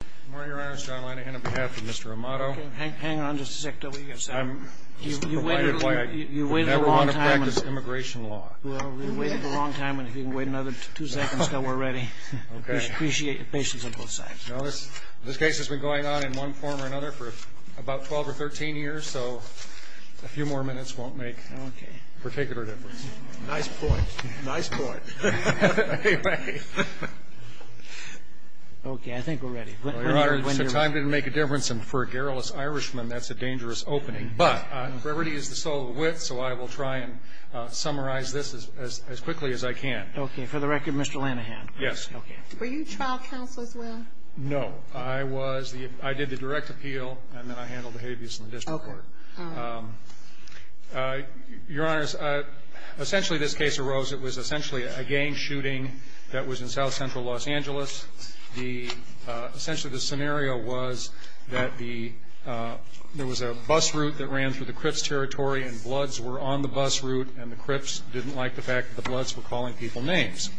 Good morning, Your Honor. It's John Linehan on behalf of Mr. Amado. Hang on just a second. You waited a long time. I never want to practice immigration law. Well, you waited a long time, and if you can wait another two seconds, then we're ready. Appreciate your patience on both sides. This case has been going on in one form or another for about 12 or 13 years, so a few more minutes won't make a particular difference. Nice point. Nice point. Anyway. Okay. I think we're ready. Your Honor, if time didn't make a difference, and for a garrulous Irishman, that's a dangerous opening. But brevity is the soul of wit, so I will try and summarize this as quickly as I can. Okay. For the record, Mr. Linehan. Yes. Were you trial counsel as well? No. I did the direct appeal, and then I handled the habeas in the district court. Okay. Your Honors, essentially this case arose. It was essentially a gang shooting that was in south-central Los Angeles. Essentially the scenario was that there was a bus route that ran through the Cripps territory, and bloods were on the bus route, and the Cripps didn't like the fact that the bloods were calling people names.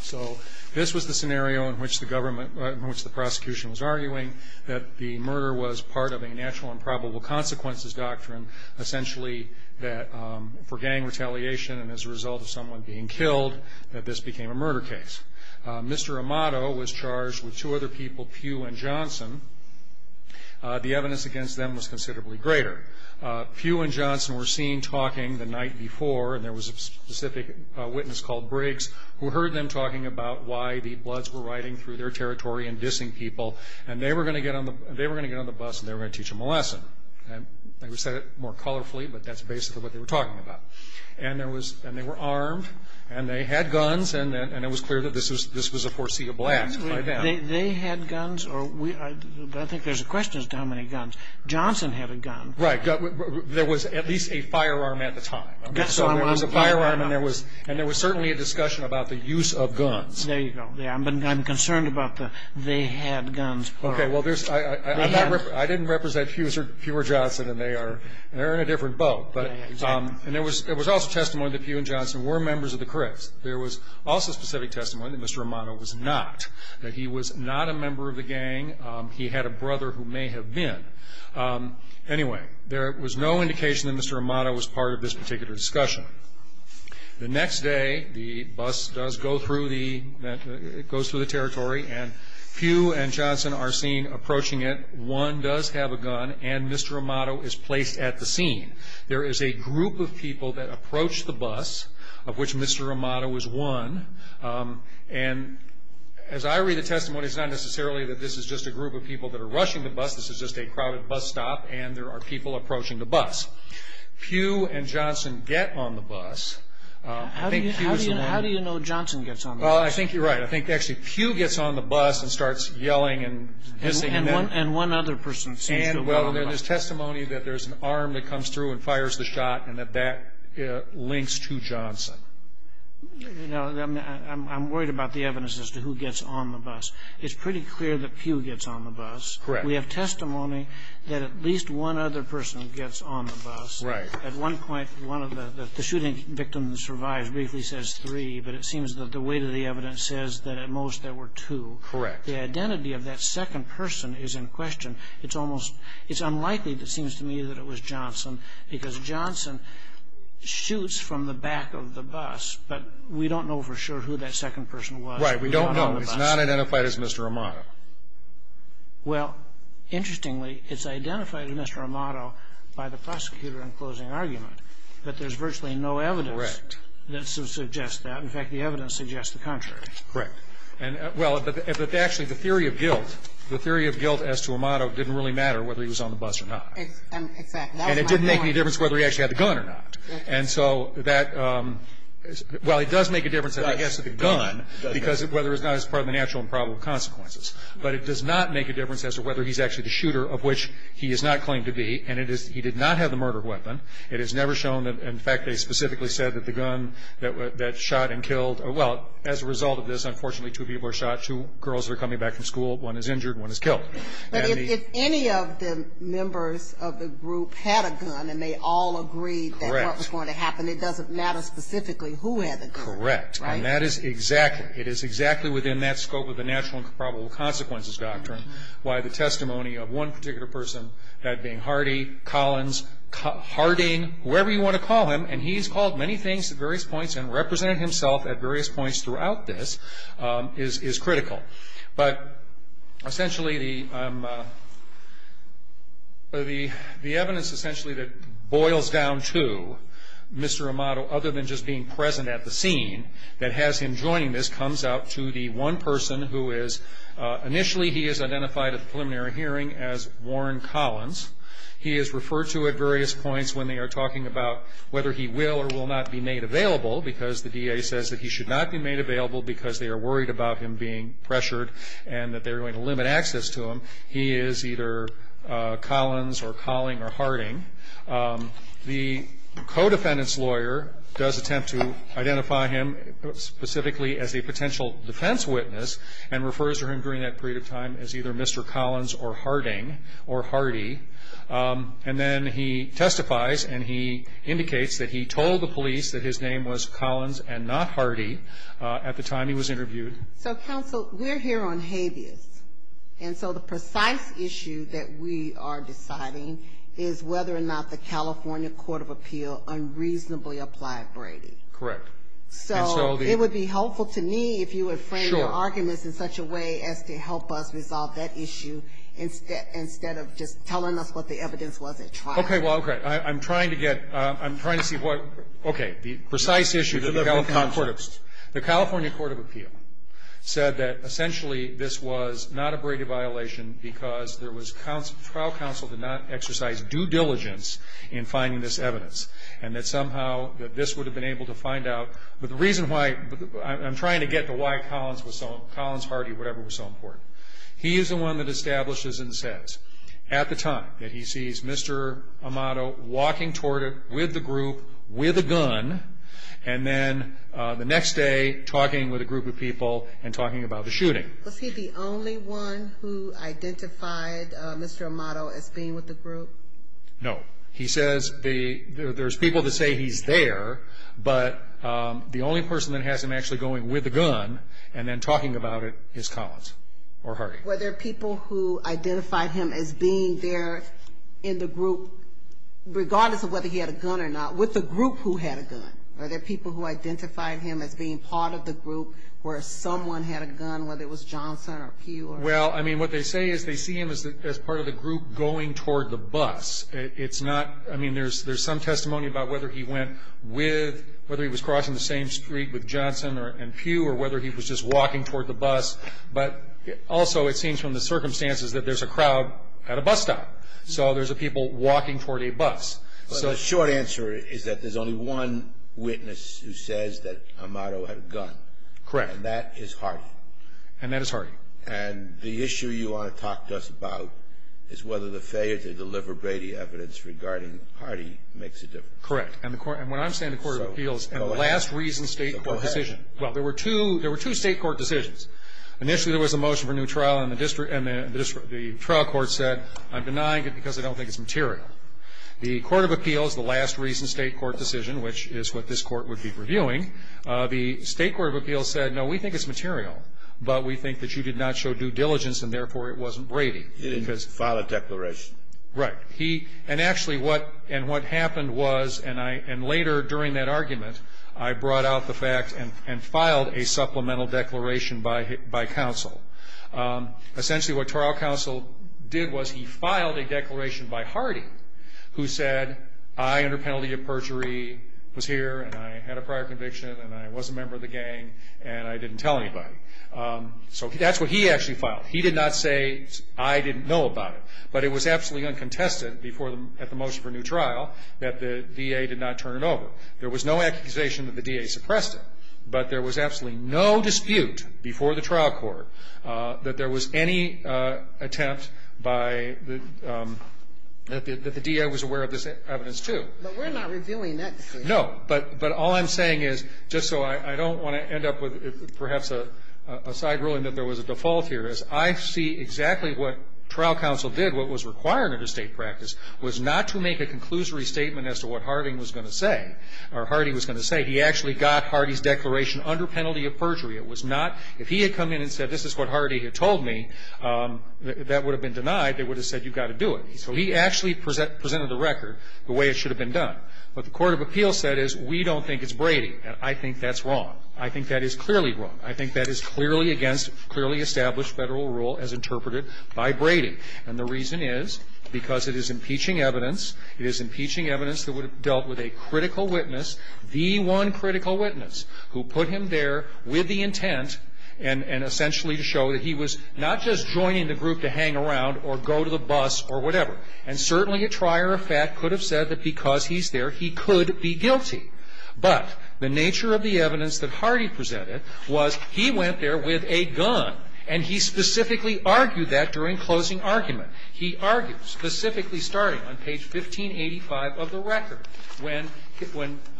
So this was the scenario in which the prosecution was arguing that the murder was part of a natural and probable consequences doctrine, essentially that for gang retaliation and as a result of someone being killed that this became a murder case. Mr. Amato was charged with two other people, Pugh and Johnson. The evidence against them was considerably greater. Pugh and Johnson were seen talking the night before, and there was a specific witness called Briggs, who heard them talking about why the bloods were riding through their territory and dissing people, and they were going to get on the bus, and they were going to teach them a lesson. They said it more colorfully, but that's basically what they were talking about. And they were armed, and they had guns, and it was clear that this was a foreseeable act by them. They had guns, or I think there's a question as to how many guns. Johnson had a gun. Right. There was at least a firearm at the time. So there was a firearm, and there was certainly a discussion about the use of guns. There you go. I'm concerned about the they had guns part. Okay, well, I didn't represent Pugh or Johnson, and they're in a different boat. And there was also testimony that Pugh and Johnson were members of the Crips. There was also specific testimony that Mr. Amato was not, that he was not a member of the gang. He had a brother who may have been. Anyway, there was no indication that Mr. Amato was part of this particular discussion. The next day, the bus does go through the territory, and Pugh and Johnson are seen approaching it. One does have a gun, and Mr. Amato is placed at the scene. There is a group of people that approach the bus, of which Mr. Amato is one. And as I read the testimony, it's not necessarily that this is just a group of people that are rushing the bus. This is just a crowded bus stop, and there are people approaching the bus. Pugh and Johnson get on the bus. I think Pugh is the one. How do you know Johnson gets on the bus? Well, I think you're right. I think actually Pugh gets on the bus and starts yelling and hissing. And one other person seems to have gotten on. And, well, there's testimony that there's an arm that comes through and fires the shot, and that that links to Johnson. You know, I'm worried about the evidence as to who gets on the bus. It's pretty clear that Pugh gets on the bus. Correct. We have testimony that at least one other person gets on the bus. Right. At one point, one of the shooting victims who survived briefly says three, but it seems that the weight of the evidence says that at most there were two. Correct. The identity of that second person is in question. It's almost unlikely, it seems to me, that it was Johnson, because Johnson shoots from the back of the bus, but we don't know for sure who that second person was. Right. We don't know. It's not identified as Mr. Amato. Well, interestingly, it's identified as Mr. Amato by the prosecutor in closing argument, but there's virtually no evidence that suggests that. Correct. In fact, the evidence suggests the contrary. Correct. And, well, but actually the theory of guilt, the theory of guilt as to Amato didn't really matter whether he was on the bus or not. Exactly. And it didn't make any difference whether he actually had the gun or not. And so that, well, it does make a difference if he has the gun, because whether or not it's part of the natural and probable consequences. But it does not make a difference as to whether he's actually the shooter, of which he is not claimed to be. And he did not have the murder weapon. It is never shown. In fact, they specifically said that the gun that shot and killed, well, as a result of this, unfortunately, two people were shot. Two girls are coming back from school. One is injured. One is killed. But if any of the members of the group had a gun and they all agreed that what was going to happen, it doesn't matter specifically who had the gun. Correct. And that is exactly. It is exactly within that scope of the natural and probable consequences doctrine why the testimony of one particular person, that being Hardy, Collins, Harding, whoever you want to call him, and he's called many things at various points and represented himself at various points throughout this, is critical. But essentially the evidence essentially that boils down to Mr. Amato, other than just being present at the scene, that has him joining this, comes out to the one person who is initially, he is identified at the preliminary hearing as Warren Collins. He is referred to at various points when they are talking about whether he will or will not be made available, because the DA says that he should not be made available because they are worried about him being pressured and that they're going to limit access to him. He is either Collins or Colling or Harding. The co-defendant's lawyer does attempt to identify him specifically as a potential defense witness and refers to him during that period of time as either Mr. Collins or Harding or Hardy. And then he testifies and he indicates that he told the police that his name was Collins and not Hardy at the time he was interviewed. So, counsel, we're here on habeas. And so the precise issue that we are deciding is whether or not the California Court of Appeal unreasonably applied Brady. Correct. So it would be helpful to me if you would frame your arguments in such a way as to help us resolve that issue instead of just telling us what the evidence was at trial. Okay, well, okay. I'm trying to get, I'm trying to see what, okay. The precise issue that the California Court of Appeal said that, essentially, this was not a Brady violation because there was, trial counsel did not exercise due diligence in finding this evidence and that somehow that this would have been able to find out. But the reason why, I'm trying to get to why Collins was so, Collins, Hardy, whatever, was so important. He is the one that establishes and says at the time that he sees Mr. Amato walking toward it with the group with a gun and then the next day talking with a group of people and talking about the shooting. Was he the only one who identified Mr. Amato as being with the group? No. He says there's people that say he's there, but the only person that has him actually going with a gun and then talking about it is Collins or Hardy. Were there people who identified him as being there in the group, regardless of whether he had a gun or not, with the group who had a gun? Were there people who identified him as being part of the group where someone had a gun, whether it was Johnson or Pew? Well, I mean, what they say is they see him as part of the group going toward the bus. It's not, I mean, there's some testimony about whether he went with, whether he was crossing the same street with Johnson and Pew or whether he was just walking toward the bus. But also it seems from the circumstances that there's a crowd at a bus stop. So there's people walking toward a bus. But the short answer is that there's only one witness who says that Amato had a gun. Correct. And that is Hardy. And that is Hardy. And the issue you want to talk to us about is whether the failure to deliver Brady evidence regarding Hardy makes a difference. Correct. And when I'm saying the court of appeals, and the last reason state court decision. So go ahead. Well, there were two state court decisions. Initially there was a motion for new trial, and the district, and the trial court said, I'm denying it because I don't think it's material. The court of appeals, the last reason state court decision, which is what this court would be reviewing, the state court of appeals said, no, we think it's material. But we think that you did not show due diligence, and therefore it wasn't Brady. He didn't file a declaration. Right. He, and actually what, and what happened was, and I, and later during that argument, I brought out the fact and filed a supplemental declaration by counsel. Essentially what trial counsel did was he filed a declaration by Hardy who said, I under penalty of perjury was here, and I had a prior conviction, and I was a member of the gang, and I didn't tell anybody. So that's what he actually filed. He did not say, I didn't know about it. But it was absolutely uncontested before, at the motion for new trial, that the DA did not turn it over. There was no accusation that the DA suppressed it. But there was absolutely no dispute before the trial court that there was any attempt by the, that the DA was aware of this evidence, too. But we're not reviewing that case. No. But all I'm saying is, just so I don't want to end up with perhaps a side ruling that there was a default here, is I see exactly what trial counsel did, what was required under state practice, was not to make a conclusory statement as to what Harding was going to say, or Hardy was going to say. He actually got Hardy's declaration under penalty of perjury. It was not, if he had come in and said, this is what Hardy had told me, that would have been denied. They would have said, you've got to do it. So he actually presented the record the way it should have been done. What the court of appeals said is, we don't think it's Brady, and I think that's wrong. I think that is clearly wrong. I think that is clearly against clearly established Federal rule as interpreted by Brady. And the reason is because it is impeaching evidence. It is impeaching evidence that would have dealt with a critical witness, the one critical witness, who put him there with the intent and essentially to show that he was not just joining the group to hang around or go to the bus or whatever. And certainly a trier of fact could have said that because he's there, he could be guilty. But the nature of the evidence that Hardy presented was he went there with a gun, and he specifically argued that during closing argument. He argued, specifically starting on page 1585 of the record, when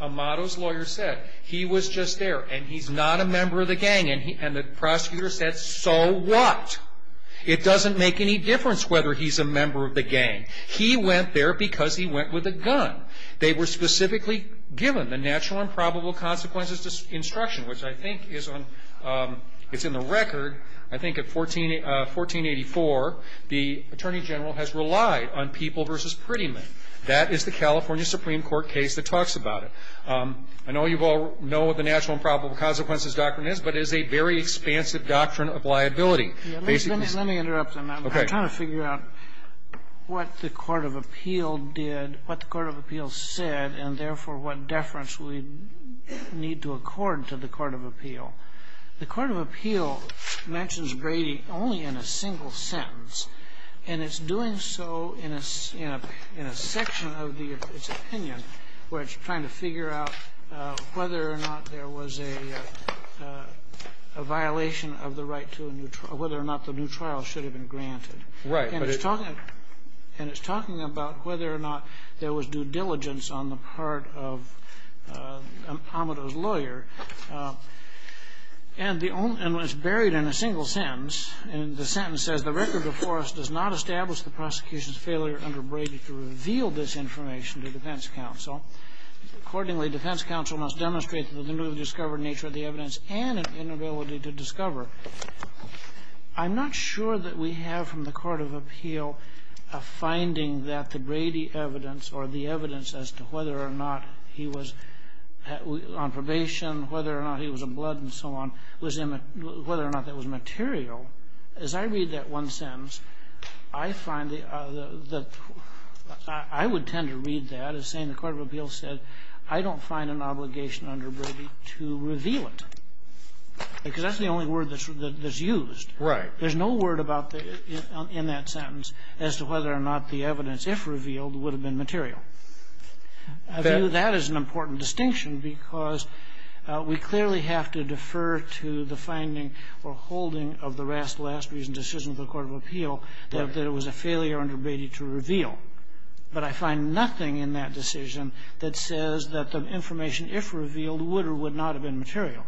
Amato's lawyer said he was just there and he's not a member of the gang, and the prosecutor said, so what? It doesn't make any difference whether he's a member of the gang. He went there because he went with a gun. They were specifically given the natural and probable consequences instruction, which I think is on the record. I think at 1484, the Attorney General has relied on people versus pretty men. That is the California Supreme Court case that talks about it. I know you all know what the natural and probable consequences doctrine is, but it is a very expansive doctrine of liability. Let me interrupt. I'm trying to figure out what the court of appeal did, what the court of appeal said, and therefore what deference we need to accord to the court of appeal. The court of appeal mentions Brady only in a single sentence, and it's doing so in a section of its opinion where it's trying to figure out whether or not there was a violation of the right to a new trial, whether or not the new trial should have been granted. Right. And it's talking about whether or not there was due diligence on the part of Amado's lawyer. And it's buried in a single sentence, and the sentence says, The record before us does not establish the prosecution's failure under Brady to reveal this information to defense counsel. Accordingly, defense counsel must demonstrate the newly discovered nature of the evidence and an inability to discover. I'm not sure that we have from the court of appeal a finding that the Brady evidence or the evidence as to whether or not he was on probation, whether or not he was a blood and so on, whether or not that was material. As I read that one sentence, I find that I would tend to read that as saying the court of appeal said, I don't find an obligation under Brady to reveal it, because that's the only word that's used. Right. There's no word in that sentence as to whether or not the evidence, if revealed, would have been material. I view that as an important distinction because we clearly have to defer to the finding or holding of the last reason, decision of the court of appeal, that it was a failure under Brady to reveal. But I find nothing in that decision that says that the information, if revealed, would or would not have been material.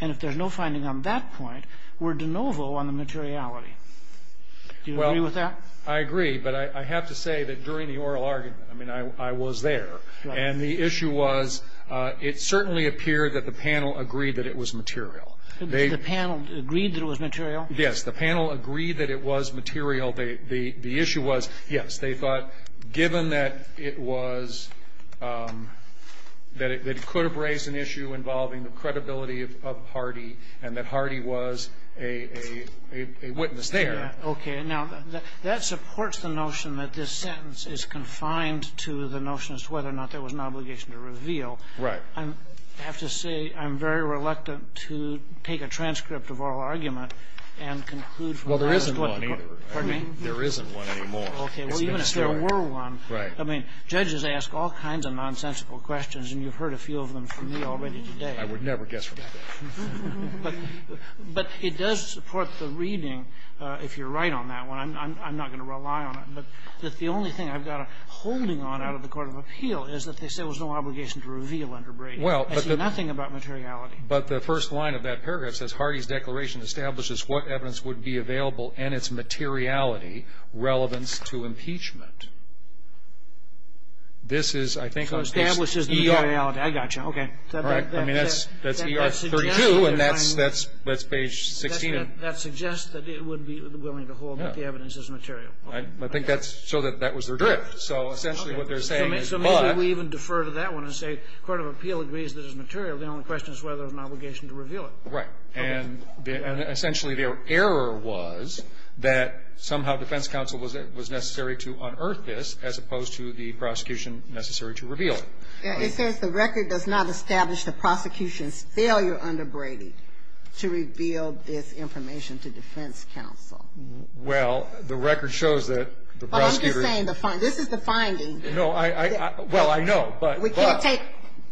And if there's no finding on that point, we're de novo on the materiality. Do you agree with that? Well, I agree. But I have to say that during the oral argument, I mean, I was there. Right. And the issue was it certainly appeared that the panel agreed that it was material. The panel agreed that it was material? Yes. The panel agreed that it was material. The issue was, yes, they thought given that it was, that it could have raised an issue involving the credibility of Hardy and that Hardy was a witness there. Okay. Now, that supports the notion that this sentence is confined to the notion as to whether or not there was an obligation to reveal. Right. I have to say I'm very reluctant to take a transcript of oral argument and conclude from that. Well, there isn't one either. Pardon me? There isn't one anymore. Okay. Well, even if there were one. Right. I mean, judges ask all kinds of nonsensical questions, and you've heard a few of them from me already today. I would never guess from that. But it does support the reading, if you're right on that one. I'm not going to rely on it. But the only thing I've got a holding on out of the Court of Appeal is that they say there was no obligation to reveal under Brady. Well, but the But nothing about materiality. But the first line of that paragraph says, Hardy's declaration establishes what evidence would be available and its materiality relevance to impeachment. This is, I think, a I got you. Okay. I mean, that's ER 32, and that's page 16. That suggests that it would be willing to hold that the evidence is material. I think that's so that that was their drift. So essentially what they're saying is, but So maybe we even defer to that one and say, Court of Appeal agrees that it's material. The only question is whether there was an obligation to reveal it. Right. And essentially their error was that somehow defense counsel was necessary to unearth this as opposed to the prosecution necessary to reveal it. It says the record does not establish the prosecution's failure under Brady to reveal this information to defense counsel. Well, the record shows that the prosecutor But I'm just saying this is the finding. No. Well, I know, but We can't take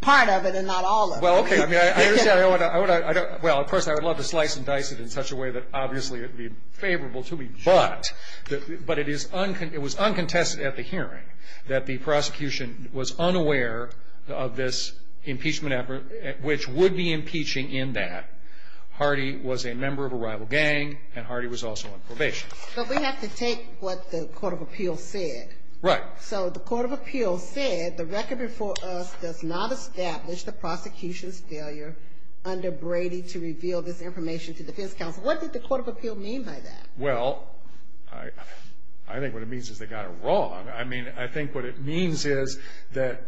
part of it and not all of it. Well, okay. I mean, I understand. Well, of course, I would love to slice and dice it in such a way that obviously it would be favorable to me. But it was uncontested at the hearing that the prosecution was unaware of this impeachment effort, which would be impeaching in that Hardy was a member of a rival gang and Hardy was also on probation. But we have to take what the Court of Appeal said. Right. So the Court of Appeal said the record before us does not establish the prosecution's failure under Brady to reveal this information to defense counsel. What did the Court of Appeal mean by that? Well, I think what it means is they got it wrong. I mean, I think what it means is that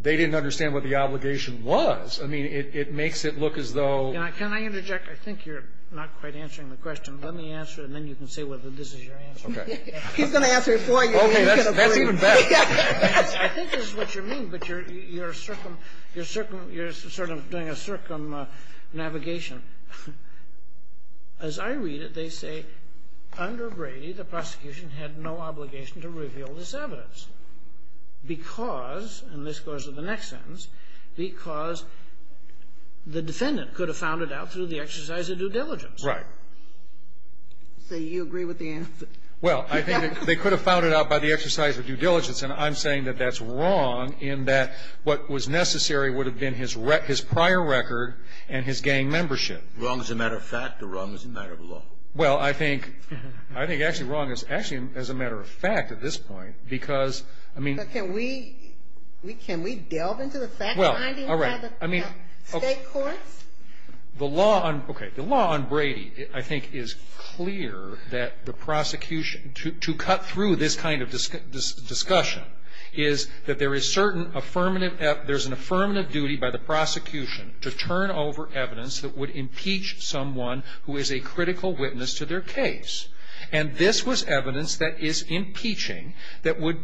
they didn't understand what the obligation was. I mean, it makes it look as though Can I interject? I think you're not quite answering the question. Let me answer it, and then you can say whether this is your answer. Okay. He's going to answer it for you. Okay. That's even better. I think this is what you mean, but you're sort of doing a circumnavigation. As I read it, they say, under Brady, the prosecution had no obligation to reveal this evidence because, and this goes to the next sentence, because the defendant could have found it out through the exercise of due diligence. Right. So you agree with the answer? Well, I think they could have found it out by the exercise of due diligence, and I'm saying that that's wrong in that what was necessary would have been his prior record and his gang membership. Wrong as a matter of fact or wrong as a matter of law? Well, I think actually wrong as a matter of fact at this point because, I mean But can we delve into the fact that I didn't have the state courts? The law on Brady, I think, is clear that the prosecution, to cut through this kind of discussion, is that there is certain affirmative, there's an affirmative duty by the prosecution to turn over evidence that would impeach someone who is a critical witness to their case, and this was evidence that is impeaching that would,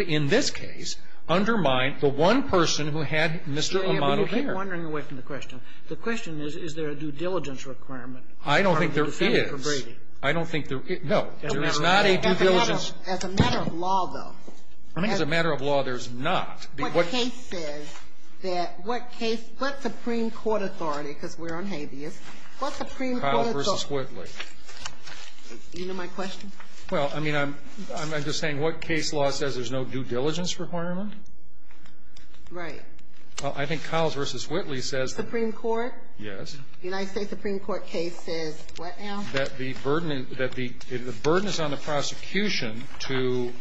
in this case, undermine the one person who had Mr. Amato there. I'm wondering away from the question. The question is, is there a due diligence requirement? I don't think there is. I don't think there is. No. There is not a due diligence. As a matter of law, though. I think as a matter of law, there's not. What case says that what case, what Supreme Court authority, because we're on habeas, what Supreme Court authority? Kyle v. Whitley. Do you know my question? Well, I mean, I'm just saying what case law says there's no due diligence requirement? Right. Well, I think Kyle v. Whitley says that. Supreme Court? Yes. The United States Supreme Court case says what now? That the burden is on the prosecution to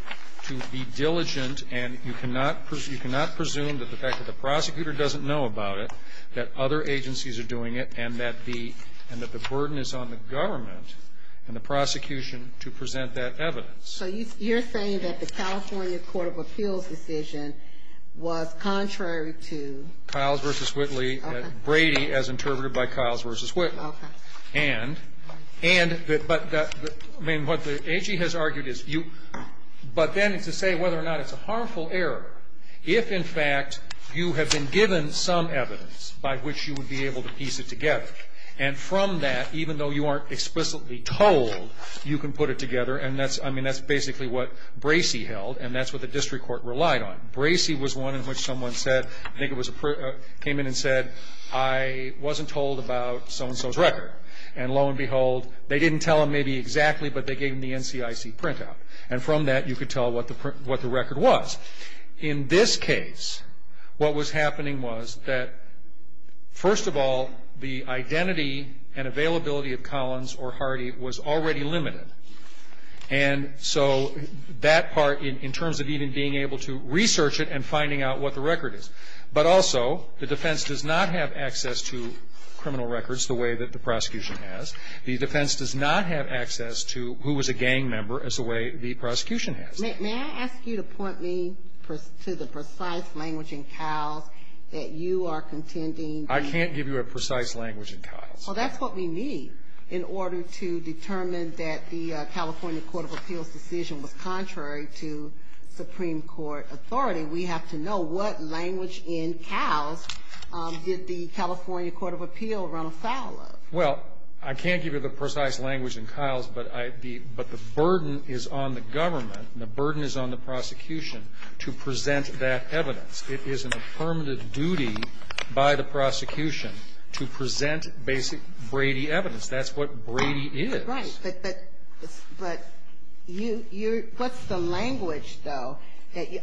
be diligent, and you cannot presume that the fact that the prosecutor doesn't know about it, that other agencies are doing it, and that the burden is on the government and the prosecution to present that evidence. So you're saying that the California Court of Appeals decision was contrary to? Kyle v. Whitley. Okay. Brady, as interpreted by Kyle v. Whitley. Okay. And, and, but, I mean, what the AG has argued is you, but then to say whether or not it's a harmful error, if in fact you have been given some evidence by which you would be able to piece it together, and from that, even though you aren't explicitly told, you can put it together, and that's, I mean, that's basically what Bracey held, and that's what the district court relied on. Bracey was one in which someone said, I think it was a, came in and said, I wasn't told about so-and-so's record, and lo and behold, they didn't tell him maybe exactly, but they gave him the NCIC printout, and from that, you could tell what the record was. In this case, what was happening was that, first of all, the identity and availability of Collins or Hardy was already limited. And so that part, in terms of even being able to research it and finding out what the record is. But also, the defense does not have access to criminal records the way that the prosecution has. The defense does not have access to who was a gang member as the way the prosecution has. May I ask you to point me to the precise language in Kyle's that you are contending the ---- I can't give you a precise language in Kyle's. Well, that's what we need in order to determine that the California Court of Appeals decision was contrary to Supreme Court authority. We have to know what language in Kyle's did the California Court of Appeals run afoul of. Well, I can't give you the precise language in Kyle's, but the burden is on the government, and the burden is on the prosecution to present that evidence. It is an affirmative duty by the prosecution to present basic Brady evidence. That's what Brady is. Right. But what's the language, though?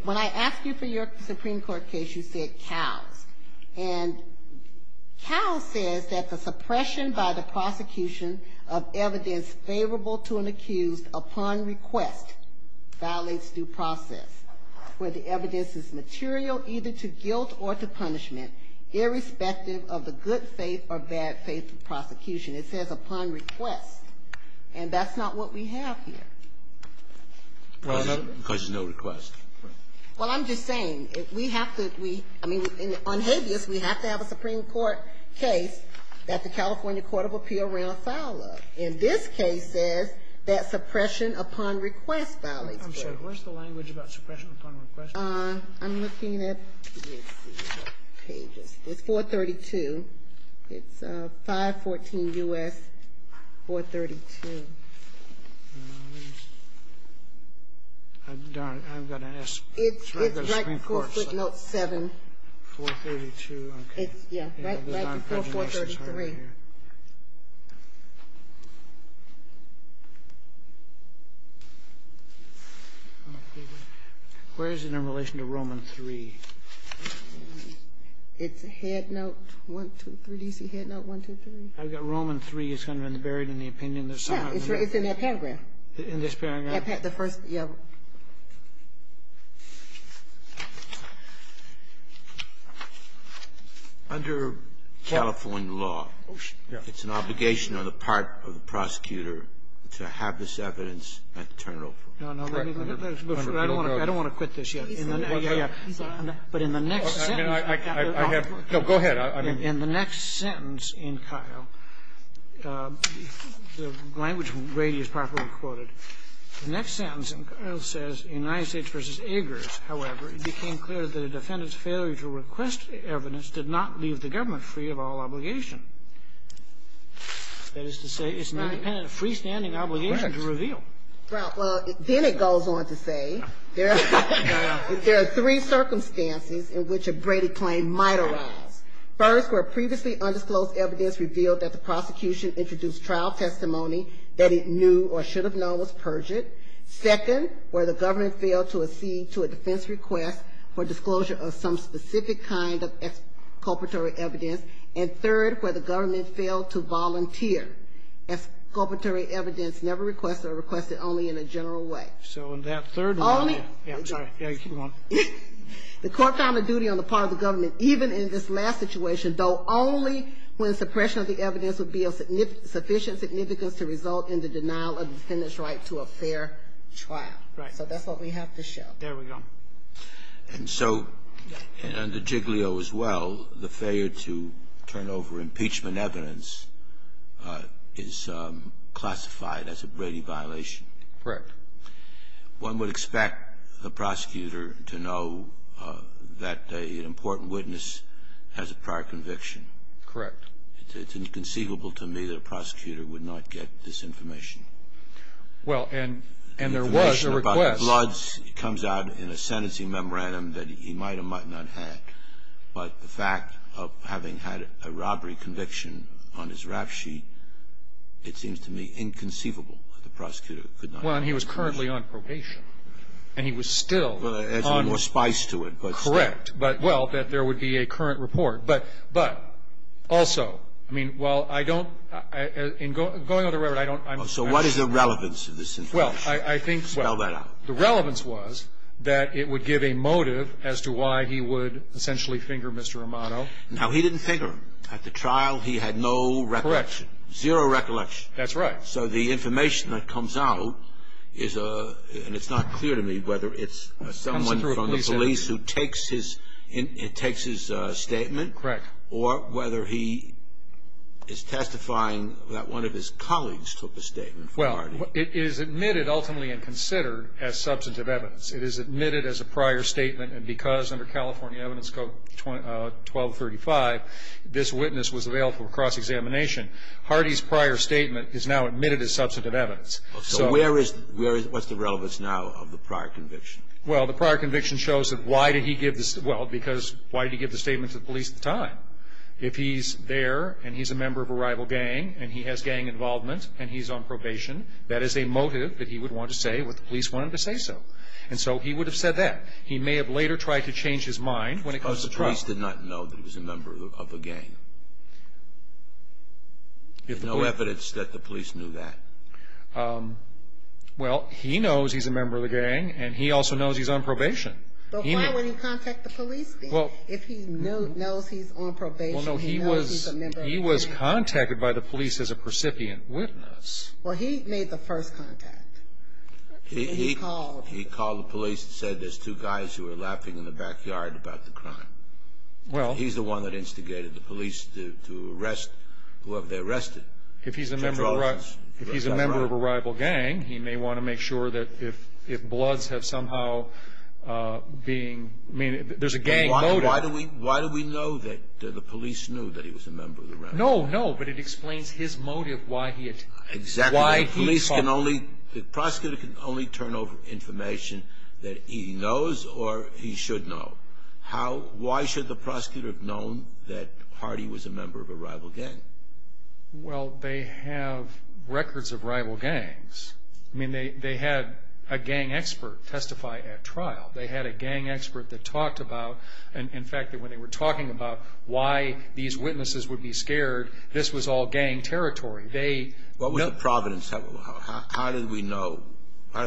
When I asked you for your Supreme Court case, you said Kyle's. And Kyle's says that the suppression by the prosecution of evidence favorable to an accused upon request violates due process. Where the evidence is material either to guilt or to punishment, irrespective of the good faith or bad faith of prosecution. It says upon request. And that's not what we have here. Because there's no request. Well, I'm just saying, we have to, I mean, on habeas, we have to have a Supreme Court case that the California Court of Appeals ran afoul of. And this case says that suppression upon request violates due process. I'm sorry, what's the language about suppression upon request? I'm looking at pages. It's 432. It's 514 U.S. 432. I'm going to ask the Supreme Court. It's right before footnote 7. 432, okay. Yeah, right before 433. Where is it in relation to Roman 3? It's headnote 123. Do you see headnote 123? I've got Roman 3. It's kind of buried in the opinion. Yeah, it's in that paragraph. In this paragraph? The first, yeah. Under California law, it's an obligation on the part of the prosecutor to have this evidence and turn it over. No, no. I don't want to quit this yet. But in the next sentence In the next sentence in Kyle, the language is properly quoted. The next sentence in Kyle says United States v. Agers, however, it became clear that a defendant's failure to request evidence did not leave the government free of all obligation. That is to say, it's an independent, freestanding obligation to reveal. Right. Well, then it goes on to say there are three circumstances in which a Brady claim might arise. First, where previously undisclosed evidence revealed that the prosecution introduced trial testimony that it knew or should have known was perjured. Second, where the government failed to accede to a defense request for disclosure of some specific kind of exculpatory evidence. And third, where the government failed to volunteer. Exculpatory evidence never requested or requested only in a general way. So in that third one, yeah. I'm sorry. Keep going. The court found a duty on the part of the government, even in this last situation, though only when suppression of the evidence would be of sufficient significance to result in the denial of the defendant's right to a fair trial. Right. So that's what we have to show. There we go. And so under Jiglio as well, the failure to turn over impeachment evidence is classified as a Brady violation. Correct. One would expect the prosecutor to know that an important witness has a prior conviction. Correct. It's inconceivable to me that a prosecutor would not get this information. Well, and there was a request. Information about the bloods comes out in a sentencing memorandum that he might or might not have had. But the fact of having had a robbery conviction on his rap sheet, it seems to me inconceivable Well, and he was currently on probation. And he was still on probation. Correct. But, well, that there would be a current report. But also, I mean, while I don't, in going over the record, I don't. So what is the relevance of this information? Well, I think. Spell that out. The relevance was that it would give a motive as to why he would essentially finger Mr. Romano. Now, he didn't finger him. At the trial, he had no recollection. Correct. Zero recollection. That's right. So the information that comes out is, and it's not clear to me whether it's someone from the police who takes his statement. Correct. Or whether he is testifying that one of his colleagues took a statement from Hardy. Well, it is admitted ultimately and considered as substantive evidence. It is admitted as a prior statement. And because under California Evidence Code 1235, this witness was available for cross-examination. Hardy's prior statement is now admitted as substantive evidence. So where is, where is, what's the relevance now of the prior conviction? Well, the prior conviction shows that why did he give the, well, because why did he give the statement to the police at the time? If he's there and he's a member of a rival gang and he has gang involvement and he's on probation, that is a motive that he would want to say what the police wanted to say so. And so he would have said that. He may have later tried to change his mind when it comes to trial. The police did not know that he was a member of a gang. There's no evidence that the police knew that. Well, he knows he's a member of a gang and he also knows he's on probation. But why would he contact the police then? If he knows he's on probation, he knows he's a member of a gang. Well, no, he was contacted by the police as a precipient witness. Well, he made the first contact. He called the police and said there's two guys who are laughing in the backyard about the crime. Well. He's the one that instigated the police to arrest whoever they arrested. If he's a member of a rival gang, he may want to make sure that if bloods have somehow been, I mean, there's a gang motive. Why do we know that the police knew that he was a member of the rival gang? No, no, but it explains his motive why he had called. Exactly. The prosecutor can only turn over information that he knows or he should know. Why should the prosecutor have known that Hardy was a member of a rival gang? Well, they have records of rival gangs. I mean, they had a gang expert testify at trial. They had a gang expert that talked about, in fact, when they were talking about why these witnesses would be scared, this was all gang territory. They know. What was the providence? How did we know? How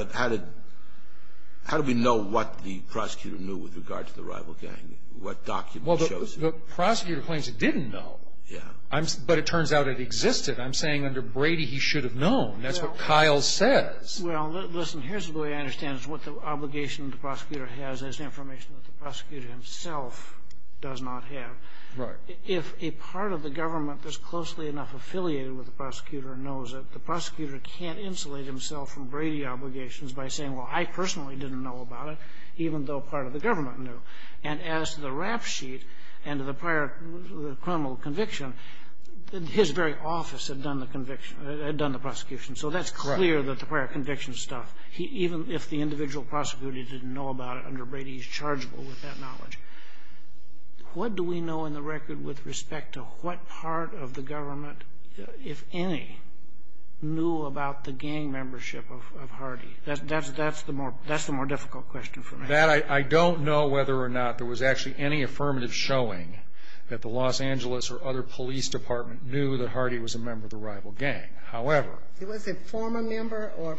did we know what the prosecutor knew with regard to the rival gang? What documents shows you? Well, the prosecutor claims he didn't know. Yeah. But it turns out it existed. I'm saying under Brady he should have known. That's what Kyle says. Well, listen, here's the way I understand it is what the obligation the prosecutor has is information that the prosecutor himself does not have. Right. If a part of the government that's closely enough affiliated with the prosecutor knows it, the prosecutor can't insulate himself from Brady obligations by saying, well, I personally didn't know about it, even though part of the government knew. And as to the rap sheet and the prior criminal conviction, his very office had done the prosecution. So that's clear that the prior conviction stuff, even if the individual prosecutor didn't know about it under Brady, he's chargeable with that knowledge. What do we know in the record with respect to what part of the government, if any, knew about the gang membership of Hardy? That's the more difficult question for me. I don't know whether or not there was actually any affirmative showing that the Los Angeles or other police department knew that Hardy was a member of the rival gang. However. He was a former member or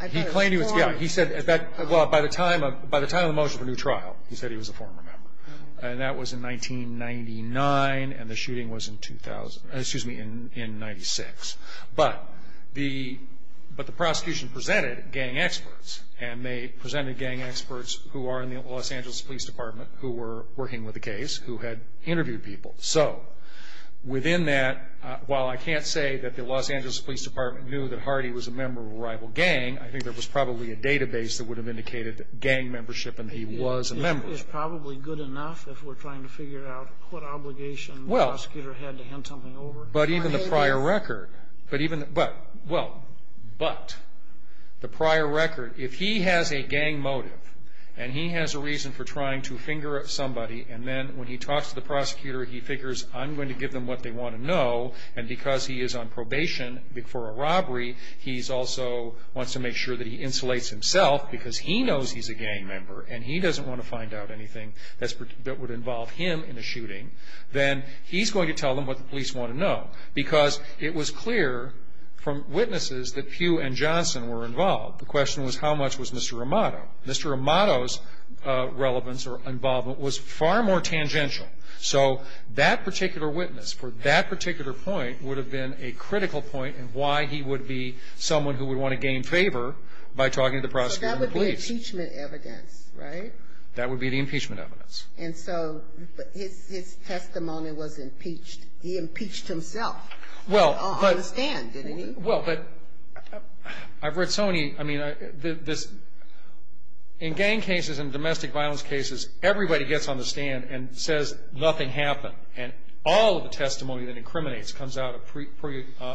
I thought a former. Well, by the time of the motion for new trial, he said he was a former member. And that was in 1999, and the shooting was in 2000, excuse me, in 96. But the prosecution presented gang experts, and they presented gang experts who are in the Los Angeles police department who were working with the case, who had interviewed people. So within that, while I can't say that the Los Angeles police department knew that Hardy was a member of a rival gang, I think there was probably a database that would have indicated gang membership and he was a member. It's probably good enough if we're trying to figure out what obligation the prosecutor had to hand something over. But even the prior record, but even, well, but the prior record, if he has a gang motive, and he has a reason for trying to finger somebody, and then when he talks to the prosecutor, he figures I'm going to give them what they want to know, and because he is on probation for a robbery, he also wants to make sure that he insulates himself because he knows he's a gang member and he doesn't want to find out anything that would involve him in a shooting, then he's going to tell them what the police want to know. Because it was clear from witnesses that Pugh and Johnson were involved. The question was how much was Mr. Amato. Mr. Amato's relevance or involvement was far more tangential. So that particular witness for that particular point would have been a critical point in why he would be someone who would want to gain favor by talking to the prosecutor in the police. So that would be impeachment evidence, right? That would be the impeachment evidence. And so his testimony was impeached. He impeached himself on the stand, didn't he? Well, but I've read so many, I mean, in gang cases and domestic violence cases, everybody gets on the stand and says nothing happened. And all of the testimony that incriminates comes out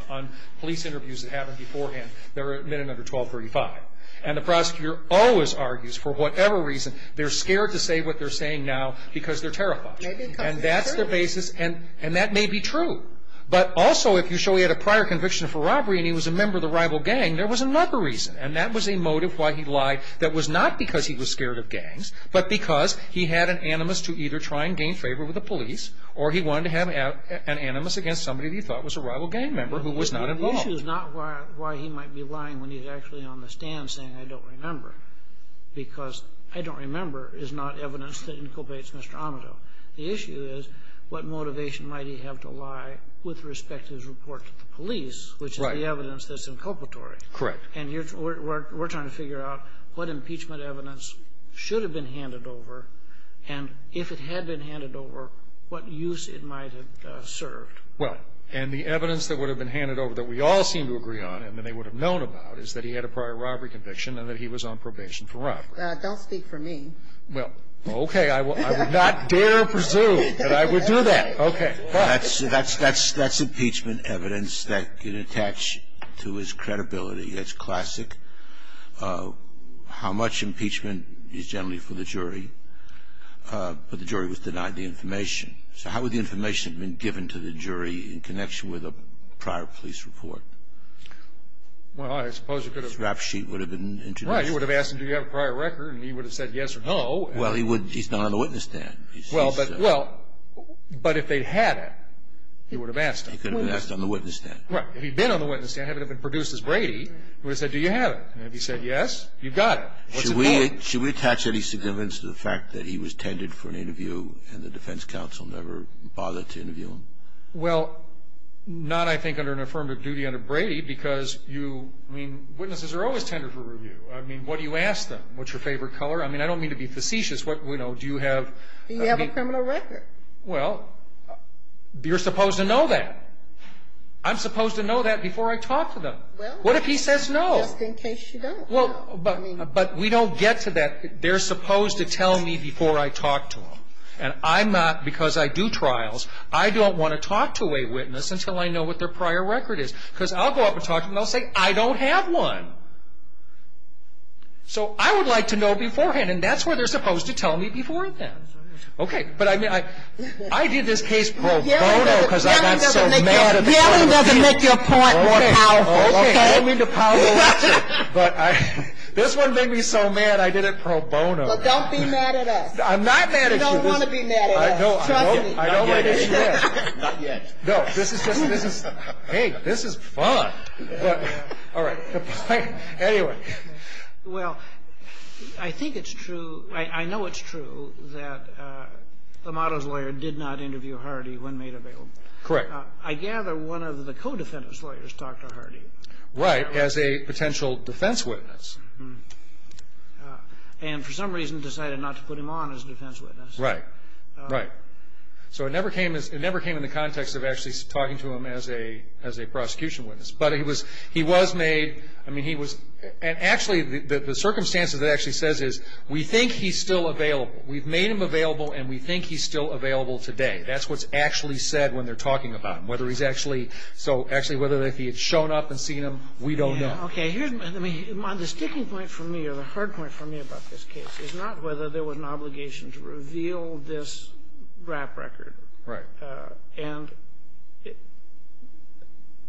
on police interviews that happened beforehand. They're admitted under 1235. And the prosecutor always argues, for whatever reason, they're scared to say what they're saying now because they're terrified. And that's their basis, and that may be true. But also, if you show he had a prior conviction for robbery and he was a member of the rival gang, there was another reason. And that was a motive why he lied. That was not because he was scared of gangs, but because he had an animus to either try and gain favor with the police or he wanted to have an animus against somebody that he thought was a rival gang member who was not involved. The issue is not why he might be lying when he's actually on the stand saying, I don't remember, because I don't remember is not evidence that inculpates Mr. Amato. The issue is what motivation might he have to lie with respect to his report to the police, which is the evidence that's inculpatory. Correct. And we're trying to figure out what impeachment evidence should have been handed over, and if it had been handed over, what use it might have served. Well, and the evidence that would have been handed over that we all seem to agree on and that they would have known about is that he had a prior robbery conviction and that he was on probation for robbery. Don't speak for me. Well, okay. I would not dare presume that I would do that. Okay. That's impeachment evidence that can attach to his credibility. That's classic. How much impeachment is generally for the jury, but the jury was denied the information. So how would the information have been given to the jury in connection with a prior police report? Well, I suppose it could have been. His rap sheet would have been introduced. Right. You would have asked him, do you have a prior record, and he would have said yes or no. Well, he's not on the witness stand. Well, but if they'd had it, he would have asked him. He could have asked on the witness stand. Right. If he'd been on the witness stand, had it been produced as Brady, he would have said, do you have it? And if he said yes, you've got it. Should we attach any significance to the fact that he was tended for an interview and the defense counsel never bothered to interview him? Well, not, I think, under an affirmative duty under Brady because you, I mean, witnesses are always tended for review. I mean, what do you ask them? What's your favorite color? I mean, I don't mean to be facetious. Do you have a criminal record? Well, you're supposed to know that. I'm supposed to know that before I talk to them. Well. What if he says no? Just in case you don't. Well, but we don't get to that. They're supposed to tell me before I talk to them, and I'm not, because I do trials, I don't want to talk to a witness until I know what their prior record is because I'll go up and talk to them and they'll say, I don't have one. So I would like to know beforehand, and that's where they're supposed to tell me before and then. Okay. But I mean, I did this case pro bono because I got so mad. Yelling doesn't make your point more powerful. Okay. I don't mean to power lecture, but this one made me so mad I did it pro bono. Well, don't be mad at us. I'm not mad at you. You don't want to be mad at us. Trust me. Not yet. Not yet. No, this is just, hey, this is fun. All right. Anyway. Well, I think it's true, I know it's true that Amato's lawyer did not interview Hardy when made available. Correct. I gather one of the co-defendant's lawyers talked to Hardy. Right, as a potential defense witness. And for some reason decided not to put him on as a defense witness. Right. Right. So it never came in the context of actually talking to him as a prosecution witness. But he was made, I mean, he was, and actually the circumstances it actually says is we think he's still available. We've made him available and we think he's still available today. That's what's actually said when they're talking about him. Whether he's actually, so actually whether he had shown up and seen him, we don't know. Okay. The sticking point for me or the hard point for me about this case is not whether there was an obligation to reveal this rap record. Right. And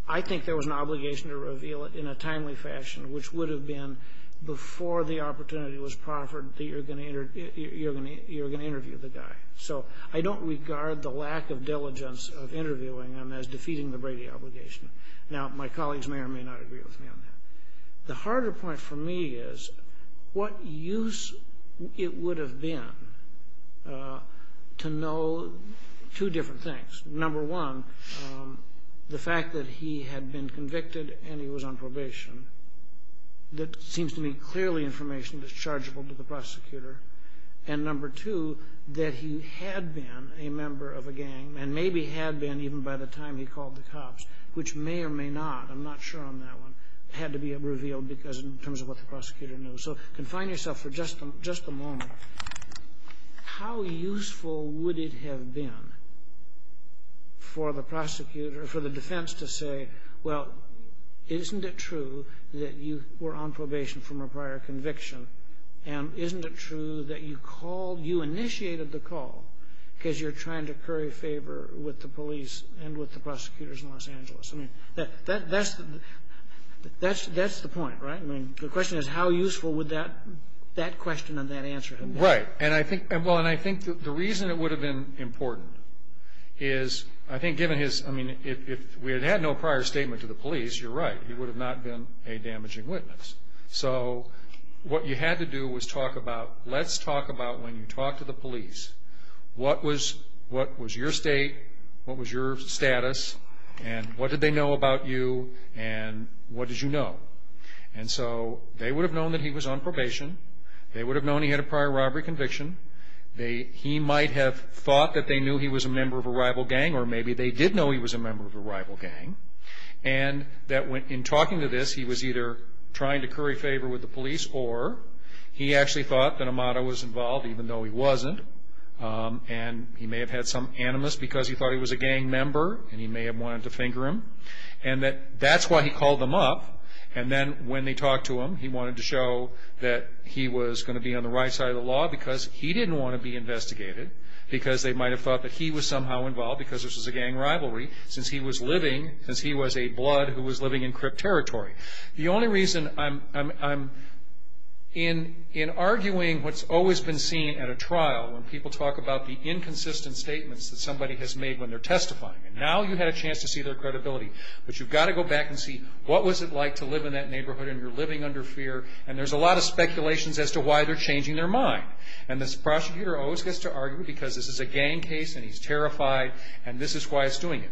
I think there was an obligation to reveal it in a timely fashion, which would have been before the opportunity was proffered that you were going to interview the guy. So I don't regard the lack of diligence of interviewing him as defeating the Brady obligation. Now, my colleagues may or may not agree with me on that. The harder point for me is what use it would have been to know two different things. Number one, the fact that he had been convicted and he was on probation, that seems to me clearly information that's chargeable to the prosecutor. And number two, that he had been a member of a gang and maybe had been even by the time he called the cops, which may or may not, I'm not sure on that one, had to be revealed in terms of what the prosecutor knew. So confine yourself for just a moment. How useful would it have been for the defense to say, well, isn't it true that you were on probation from a prior conviction? And isn't it true that you called, you initiated the call because you're trying to curry favor with the police and with the prosecutors in Los Angeles? I mean, that's the point, right? I mean, the question is how useful would that question and that answer have been? Right. Well, and I think the reason it would have been important is I think given his, I mean, if we had had no prior statement to the police, you're right, he would have not been a damaging witness. So what you had to do was talk about, let's talk about when you talk to the police what was your state, what was your status, and what did they know about you, and what did you know? And so they would have known that he was on probation. They would have known he had a prior robbery conviction. He might have thought that they knew he was a member of a rival gang, or maybe they did know he was a member of a rival gang, and that in talking to this he was either trying to curry favor with the police or he actually thought that Amada was involved even though he wasn't, and he may have had some animus because he thought he was a gang member, and he may have wanted to finger him, and that that's why he called them up. And then when they talked to him, he wanted to show that he was going to be on the right side of the law because he didn't want to be investigated because they might have thought that he was somehow involved because this was a gang rivalry since he was living, since he was a blood who was living in crypt territory. The only reason I'm in arguing what's always been seen at a trial when people talk about the inconsistent statements that somebody has made when they're testifying, and now you had a chance to see their credibility, but you've got to go back and see what was it like to live in that neighborhood, and you're living under fear, and there's a lot of speculations as to why they're changing their mind. And this prosecutor always gets to argue because this is a gang case, and he's terrified, and this is why he's doing it.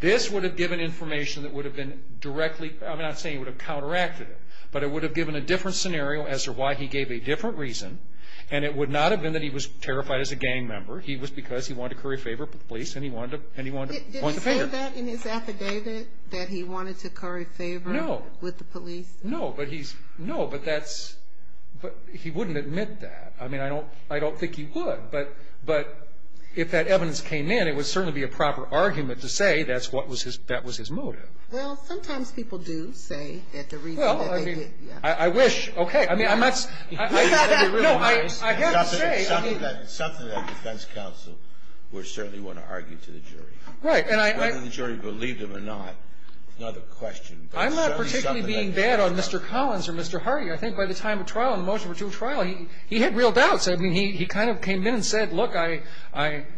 This would have given information that would have been directly, I'm not saying it would have counteracted it, but it would have given a different scenario as to why he gave a different reason, and it would not have been that he was terrified as a gang member. He was because he wanted to curry favor with the police, and he wanted to point the finger. Did he say that in his affidavit, that he wanted to curry favor with the police? No, but he wouldn't admit that. I mean, I don't think he would, but if that evidence came in, then it would certainly be a proper argument to say that was his motive. Well, sometimes people do say that the reason that they did, yeah. Well, I mean, I wish. Okay. I mean, I'm not saying. No, I have to say. It's something that a defense counsel would certainly want to argue to the jury. Right, and I. Whether the jury believed him or not is another question. I'm not particularly being bad on Mr. Collins or Mr. Hardy. I think by the time of trial, in the motion for two trial, he had real doubts. I mean, he kind of came in and said, look, I'm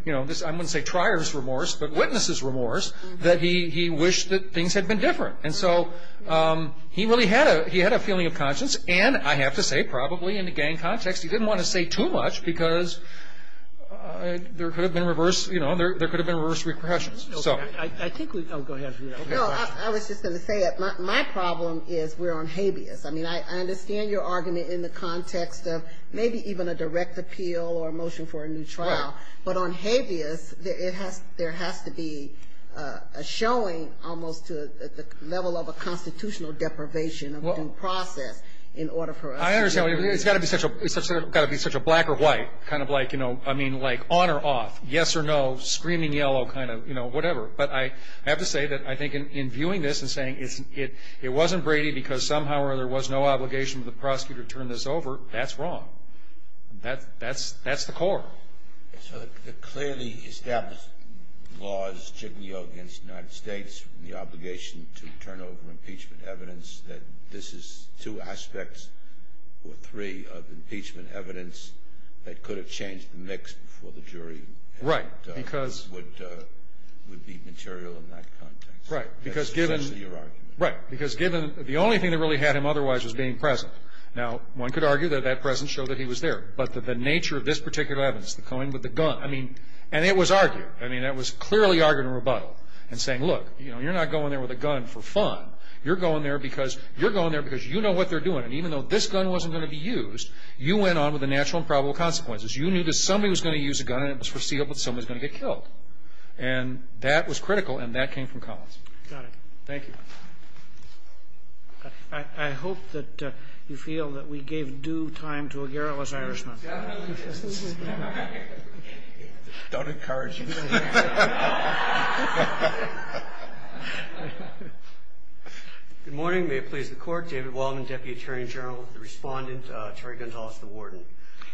going to say trier's remorse, but witness's remorse, that he wished that things had been different. And so he really had a feeling of conscience, and I have to say, probably in the gang context, he didn't want to say too much because there could have been reverse repressions. I think we. Oh, go ahead. No, I was just going to say it. My problem is we're on habeas. I mean, I understand your argument in the context of maybe even a direct appeal or a motion for a new trial. Right. But on habeas, there has to be a showing almost to the level of a constitutional deprivation of due process in order for us. I understand. It's got to be such a black or white, kind of like, you know, I mean, like on or off, yes or no, screaming yellow, kind of, you know, whatever. But I have to say that I think in viewing this and saying it wasn't Brady because somehow or other there was no obligation for the prosecutor to turn this over, that's wrong. That's the core. So the clearly established law is jignaille against the United States and the obligation to turn over impeachment evidence, that this is two aspects or three of impeachment evidence that could have changed the mix before the jury. Right. Because. This would be material in that context. Right. Because given. Right. Because given the only thing that really had him otherwise was being present. Now, one could argue that that presence showed that he was there. But the nature of this particular evidence, the coin with the gun, I mean, and it was argued. I mean, it was clearly argued in rebuttal and saying, look, you know, you're not going there with a gun for fun. You're going there because you're going there because you know what they're doing. And even though this gun wasn't going to be used, you went on with the natural and probable consequences. You knew that somebody was going to use a gun and it was foreseeable that somebody was going to get killed. And that was critical. And that came from Collins. Got it. Thank you. I hope that you feel that we gave due time to a garrulous Irishman. Don't encourage you. Good morning. May it please the court. David Wallman, Deputy Attorney General. The respondent, Terry Gonzales, the warden.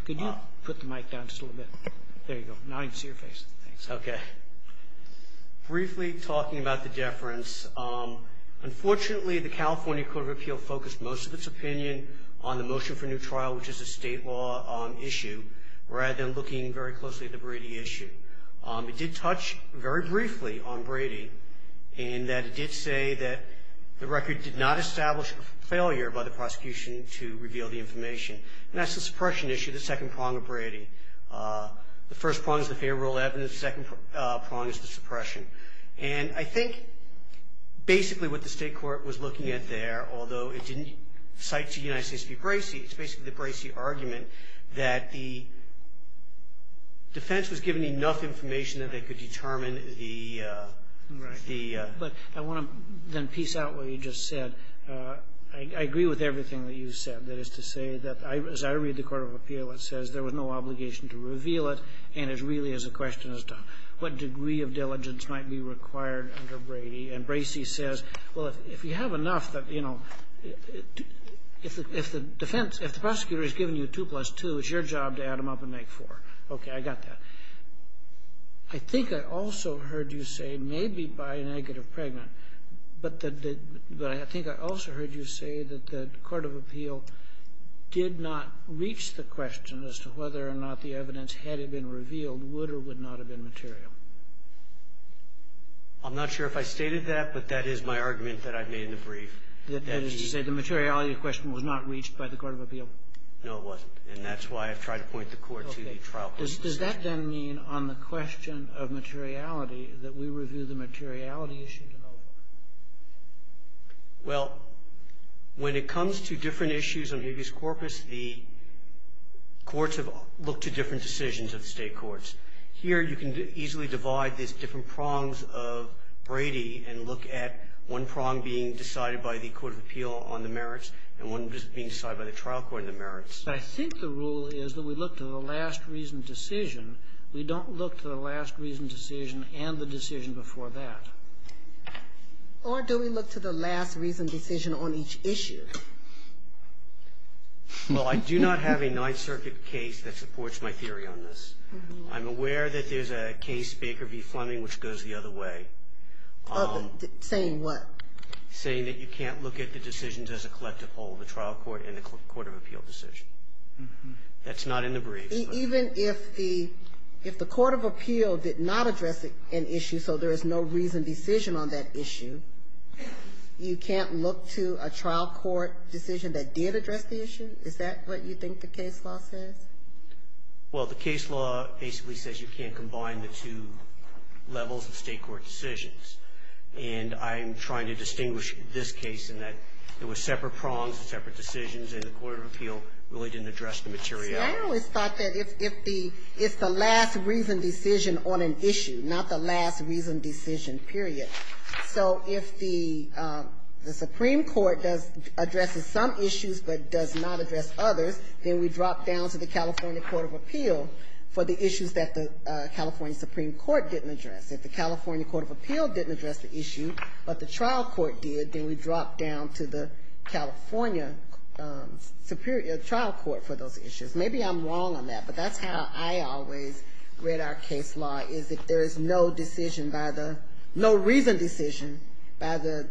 Could you put the mic down just a little bit? There you go. Now I can see your face. Thanks. Okay. Briefly talking about the deference. Unfortunately, the California Court of Appeal focused most of its opinion on the motion for new trial, which is a state law issue, rather than looking very closely at the Brady issue. It did touch very briefly on Brady in that it did say that the record did not establish a failure by the prosecution to reveal the information. And that's the suppression issue, the second prong of Brady. The first prong is the favorable evidence. The second prong is the suppression. And I think basically what the state court was looking at there, although it didn't cite to the United States v. Bracey, it's basically the Bracey argument that the defense was given enough information that they could determine the Right. But I want to then piece out what you just said. I agree with everything that you said. That is to say that as I read the Court of Appeal, it says there was no obligation to reveal it. And it really is a question as to what degree of diligence might be required under Brady. And Bracey says, well, if you have enough that, you know, if the defense, if the prosecutor has given you two plus two, it's your job to add them up and make four. Okay. I got that. I think I also heard you say maybe by a negative pregnant. But I think I also heard you say that the Court of Appeal did not reach the question as to whether or not the evidence had been revealed would or would not have been material. I'm not sure if I stated that, but that is my argument that I've made in the brief. That is to say the materiality of the question was not reached by the Court of Appeal? No, it wasn't. And that's why I've tried to point the Court to the trial court. Does that, then, mean on the question of materiality that we review the materiality issue? Well, when it comes to different issues on habeas corpus, the courts have looked to different decisions of the State courts. Here you can easily divide these different prongs of Brady and look at one prong being decided by the Court of Appeal on the merits and one being decided by the trial court on the merits. I think the rule is that we look to the last reasoned decision. We don't look to the last reasoned decision and the decision before that. Or do we look to the last reasoned decision on each issue? Well, I do not have a Ninth Circuit case that supports my theory on this. I'm aware that there's a case, Baker v. Fleming, which goes the other way. Saying what? Saying that you can't look at the decisions as a collective whole, the trial court and the Court of Appeal decision. That's not in the briefs. Even if the Court of Appeal did not address an issue, so there is no reasoned decision on that issue, you can't look to a trial court decision that did address the issue? Is that what you think the case law says? Well, the case law basically says you can't combine the two levels of State court decisions. And I'm trying to distinguish this case in that there were separate prongs, separate decisions, and the Court of Appeal really didn't address the materiality. I always thought that if the last reasoned decision on an issue, not the last reasoned decision, period. So if the Supreme Court addresses some issues but does not address others, then we drop down to the California Court of Appeal for the issues that the California Supreme Court didn't address. If the California Court of Appeal didn't address the issue but the trial court did, then we drop down to the California Superior, the trial court for those issues. Maybe I'm wrong on that, but that's how I always read our case law, is that there is no decision by the, no reasoned decision by the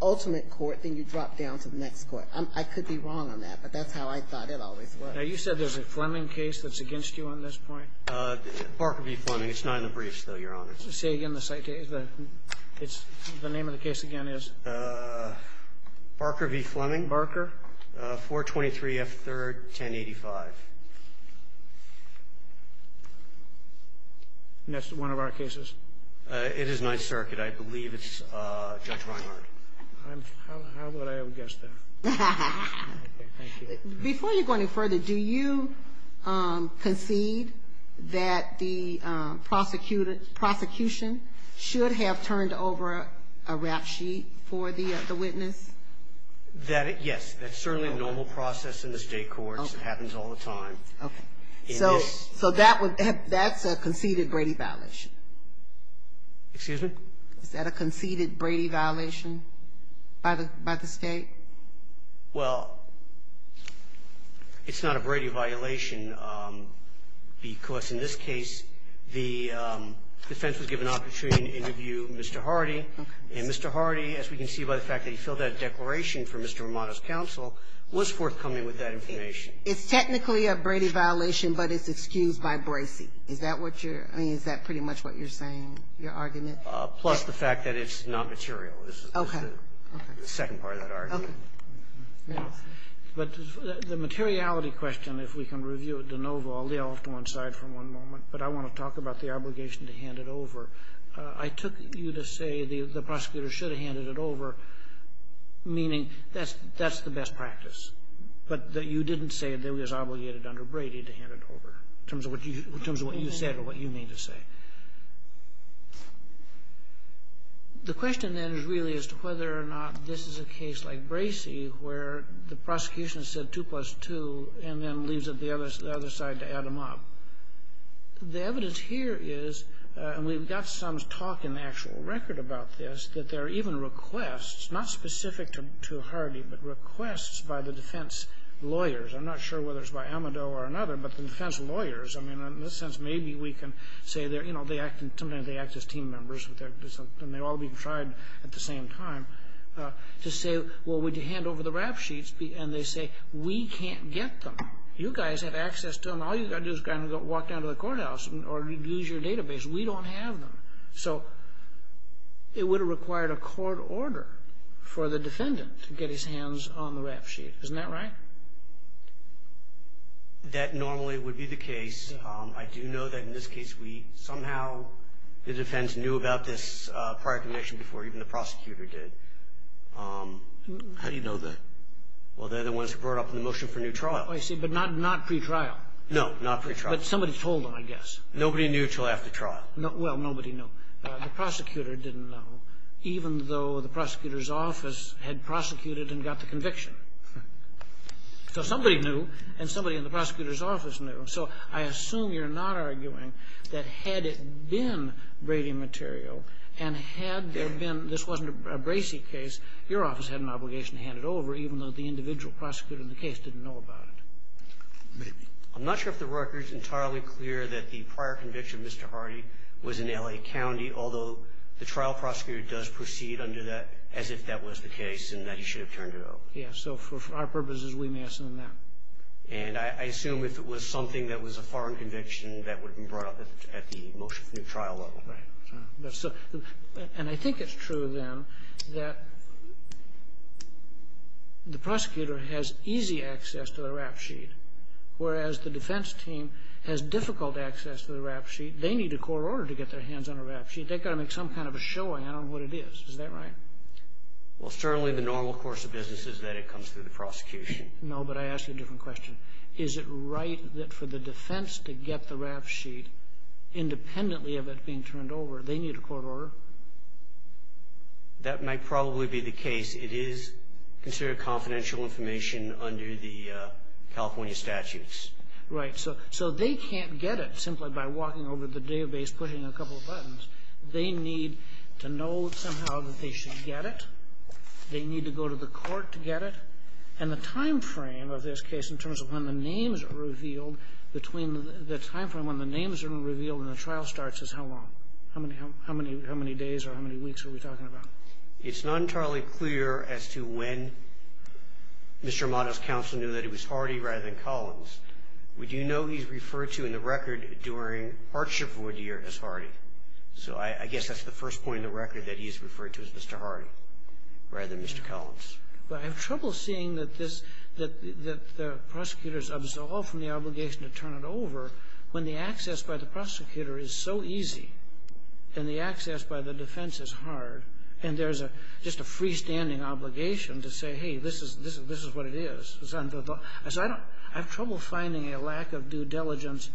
ultimate court, then you drop down to the next court. I could be wrong on that, but that's how I thought it always was. Now, you said there's a Fleming case that's against you on this point? Barker v. Fleming. It's not in the briefs, though, Your Honor. Say again the site case. The name of the case again is? Barker v. Fleming. Barker. 423 F. 3rd, 1085. And that's one of our cases? It is Ninth Circuit. I believe it's Judge Reinhardt. How would I have guessed that? Okay. Thank you. Before you go any further, do you concede that the prosecution should have turned over a rap sheet for the witness? Yes. That's certainly a normal process in the state courts. It happens all the time. Okay. So that's a conceded Brady violation? Excuse me? Is that a conceded Brady violation by the state? Well, it's not a Brady violation because, in this case, the defense was given an opportunity to interview Mr. Hardy, and Mr. Hardy, as we can see by the fact that he filled out a declaration for Mr. Romano's counsel, was forthcoming with that information. It's technically a Brady violation, but it's excused by Bracey. Is that what you're – I mean, is that pretty much what you're saying, your argument? Plus the fact that it's not material is the second part of that argument. Yes. But the materiality question, if we can review it de novo – I'll lay off to one side for one moment, but I want to talk about the obligation to hand it over. I took you to say the prosecutor should have handed it over, meaning that's the best practice, but that you didn't say that it was obligated under Brady to hand it over in terms of what you said or what you mean to say. The question, then, is really as to whether or not this is a case like Bracey, where the prosecution said 2 plus 2 and then leaves it to the other side to add them up. The evidence here is – and we've got some talk in the actual record about this – that there are even requests, not specific to Hardy, but requests by the defense lawyers – I'm not sure whether it's by Amedow or another, but the defense lawyers – I mean, in this sense, maybe we can say they're – sometimes they act as team members and they're all being tried at the same time – to say, well, would you hand over the rap sheets? And they say, we can't get them. You guys have access to them. All you've got to do is walk down to the courthouse or use your database. We don't have them. So it would have required a court order for the defendant to get his hands on the rap sheet. Isn't that right? That normally would be the case. I do know that in this case we somehow – the defense knew about this prior conviction before even the prosecutor did. How do you know the – well, they're the ones who brought up the motion for new trial. I see. But not pretrial. No, not pretrial. But somebody told them, I guess. Nobody knew until after trial. Well, nobody knew. The prosecutor didn't know, even though the prosecutor's office had prosecuted and got the conviction. So somebody knew and somebody in the prosecutor's office knew. So I assume you're not arguing that had it been Brady material and had there been – this wasn't a Bracey case, your office had an obligation to hand it over, even though the individual prosecutor in the case didn't know about it. I'm not sure if the record's entirely clear that the prior conviction, Mr. Hardy, was in L.A. County, although the trial prosecutor does proceed under that as if that was the case and that he should have turned it over. Yes. So for our purposes, we may assume that. And I assume if it was something that was a foreign conviction, that would have been brought up at the motion for new trial level. Right. And I think it's true, then, that the prosecutor has easy access to the rap sheet, whereas the defense team has difficult access to the rap sheet. They need a court order to get their hands on a rap sheet. They've got to make some kind of a showing. I don't know what it is. Is that right? Well, certainly the normal course of business is that it comes through the prosecution. No, but I ask you a different question. Is it right that for the defense to get the rap sheet independently of it being turned over, they need a court order? That might probably be the case. It is considered confidential information under the California statutes. Right. So they can't get it simply by walking over to the database, pushing a couple of buttons. They need to know somehow that they should get it. They need to go to the court to get it. And the time frame of this case in terms of when the names are revealed between the time frame when the names are revealed and the trial starts is how long? How many days or how many weeks are we talking about? It's not entirely clear as to when Mr. Armato's counsel knew that it was Hardy rather than Collins. We do know he's referred to in the record during Hartship v. Deere as Hardy. So I guess that's the first point in the record that he's referred to as Mr. Hardy rather than Mr. Collins. But I have trouble seeing that this, that the prosecutors absolve from the obligation to turn it over when the access by the prosecutor is so easy and the access by the defense is hard and there's just a freestanding obligation to say, hey, this is what it is. I have trouble finding a lack of due diligence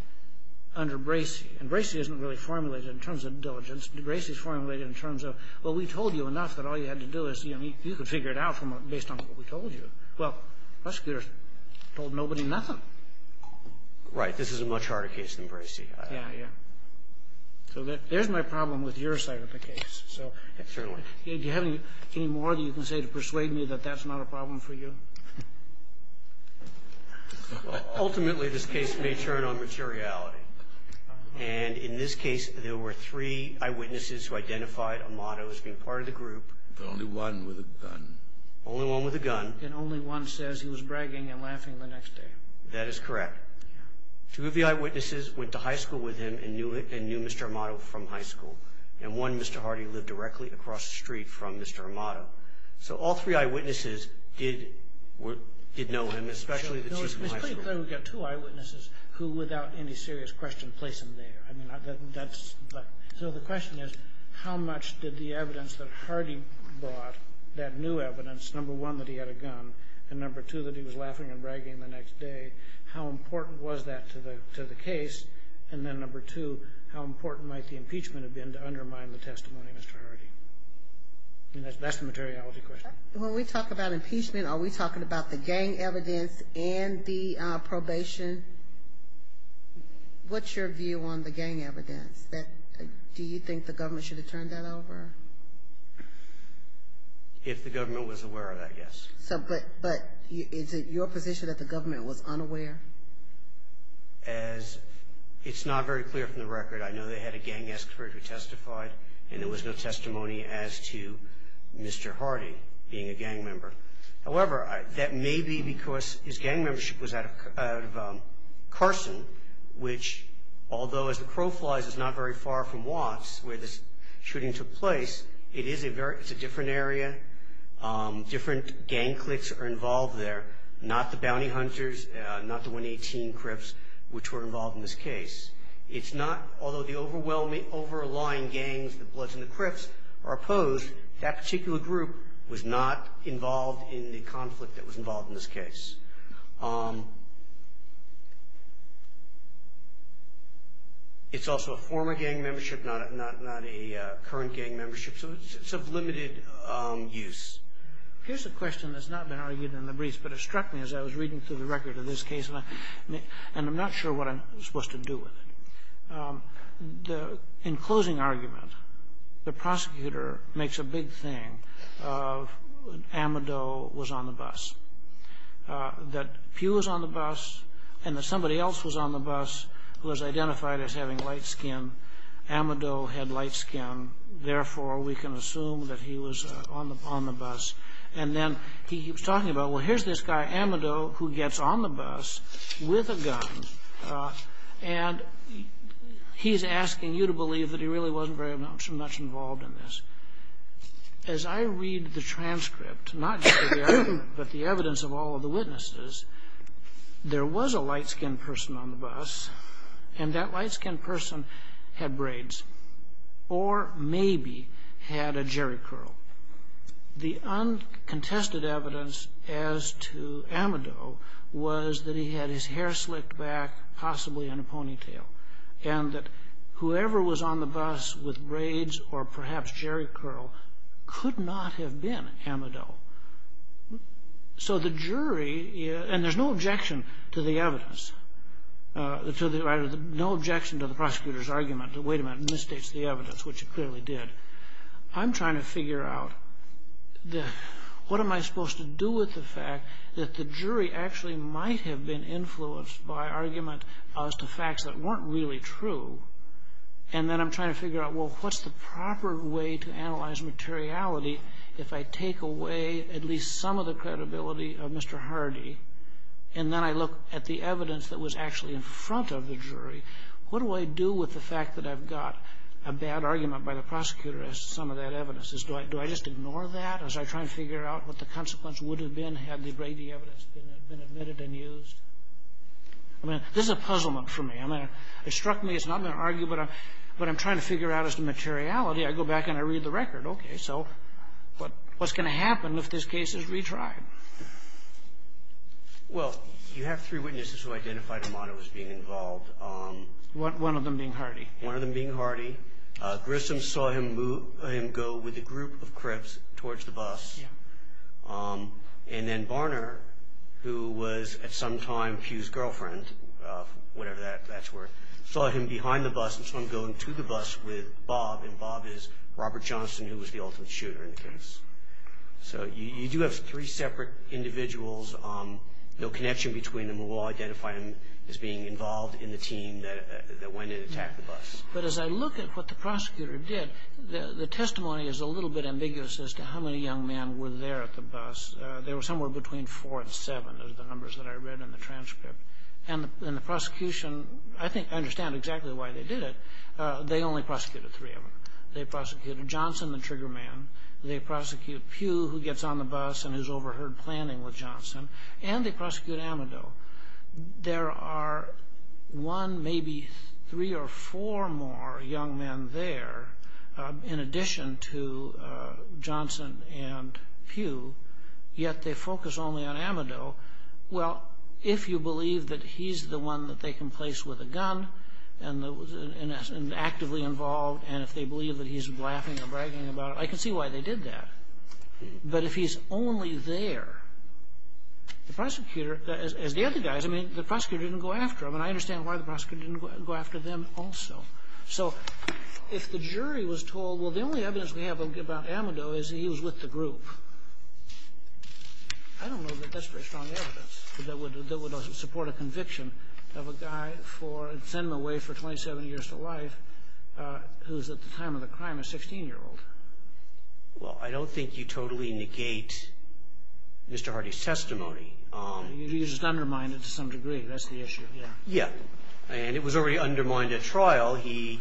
under Bracey. And Bracey isn't really formulated in terms of diligence. Bracey's formulated in terms of, well, we told you enough that all you had to do is you could figure it out based on what we told you. Well, prosecutors told nobody nothing. Right. This is a much harder case than Bracey. Yeah, yeah. So there's my problem with your side of the case. Ultimately, this case may turn on materiality. And in this case, there were three eyewitnesses who identified Amato as being part of the group. Only one with a gun. Only one with a gun. And only one says he was bragging and laughing the next day. That is correct. Two of the eyewitnesses went to high school with him and knew Mr. Amato from high school. And one, Mr. Hardy, lived directly across the street from Mr. Amato. So all three eyewitnesses did know him, especially the two from high school. It's pretty clear we've got two eyewitnesses who, without any serious question, place him there. So the question is, how much did the evidence that Hardy brought, that new evidence, number one, that he had a gun, and number two, that he was laughing and bragging the next day, how important was that to the case? And then number two, how important might the impeachment have been to undermine the testimony of Mr. Hardy? That's the materiality question. When we talk about impeachment, are we talking about the gang evidence and the probation? What's your view on the gang evidence? Do you think the government should have turned that over? If the government was aware of that, yes. But is it your position that the government was unaware? It's not very clear from the record. I know they had a gang expert who testified, and there was no testimony as to Mr. Hardy being a gang member. However, that may be because his gang membership was out of Carson, which, although as the crow flies, it's not very far from Watts where this shooting took place, it's a different area, different gang cliques are involved there, not the bounty hunters, not the 118 Crips, which were involved in this case. It's not, although the overwhelming, overlying gangs, the Bloods and the Crips are opposed, that particular group was not involved in the conflict that was involved in this case. It's also a former gang membership, not a current gang membership, so it's of limited use. Here's a question that's not been argued in the briefs, but it struck me as I was reading through the record of this case, and I'm not sure what I'm supposed to do with it. In closing argument, the prosecutor makes a big thing of Amado was on the bus, that Pew was on the bus, and that somebody else was on the bus who was identified as having light skin. Amado had light skin, therefore we can assume that he was on the bus. And then he keeps talking about, well, here's this guy, Amado, who gets on the bus, but he's asking you to believe that he really wasn't very much involved in this. As I read the transcript, not just the argument, but the evidence of all of the witnesses, there was a light skin person on the bus, and that light skin person had braids, or maybe had a jerry curl. The uncontested evidence as to Amado was that he had his hair slicked back, possibly in a ponytail, and that whoever was on the bus with braids or perhaps jerry curl could not have been Amado. So the jury, and there's no objection to the evidence, no objection to the prosecutor's argument that, wait a minute, misstates the evidence, which it clearly did. I'm trying to figure out what am I supposed to do with the fact that the jury actually might have been influenced by argument as to facts that weren't really true, and then I'm trying to figure out, well, what's the proper way to analyze materiality if I take away at least some of the credibility of Mr. Hardy, and then I look at the evidence that was actually in front of the jury, what do I do with the fact that I've got a bad argument by the prosecutor as to some of that evidence? Do I just ignore that as I try to figure out what the consequence would have been had the evidence been admitted and used? This is a puzzlement for me. It struck me as not an argument, but I'm trying to figure out as to materiality. I go back and I read the record. Okay, so what's going to happen if this case is retried? Well, you have three witnesses who identified Amado as being involved. One of them being Hardy. One of them being Hardy. Grissom saw him go with a group of crips towards the bus. And then Barner, who was at some time Hugh's girlfriend, whatever that's worth, saw him behind the bus and saw him going to the bus with Bob, and Bob is Robert Johnson, who was the ultimate shooter in the case. So you do have three separate individuals, no connection between them, who will identify him as being involved in the team that went and attacked the bus. But as I look at what the prosecutor did, the testimony is a little bit There were somewhere between four and seven is the numbers that I read in the transcript. And the prosecution, I think I understand exactly why they did it. They only prosecuted three of them. They prosecuted Johnson, the trigger man. They prosecute Pew, who gets on the bus and is overheard planning with Johnson. And they prosecute Amado. There are one, maybe three or four more young men there, in addition to Pew, yet they focus only on Amado. Well, if you believe that he's the one that they can place with a gun and actively involved, and if they believe that he's laughing or bragging about it, I can see why they did that. But if he's only there, the prosecutor, as the other guys, I mean, the prosecutor didn't go after him. And I understand why the prosecutor didn't go after them also. So if the jury was told, well, the only evidence we have about Amado is he was with the group, I don't know that that's very strong evidence that would support a conviction of a guy for sending him away for 27 years to life who's, at the time of the crime, a 16-year-old. Well, I don't think you totally negate Mr. Hardy's testimony. You just undermined it to some degree. That's the issue, yeah. Yeah. And it was already undermined at trial. He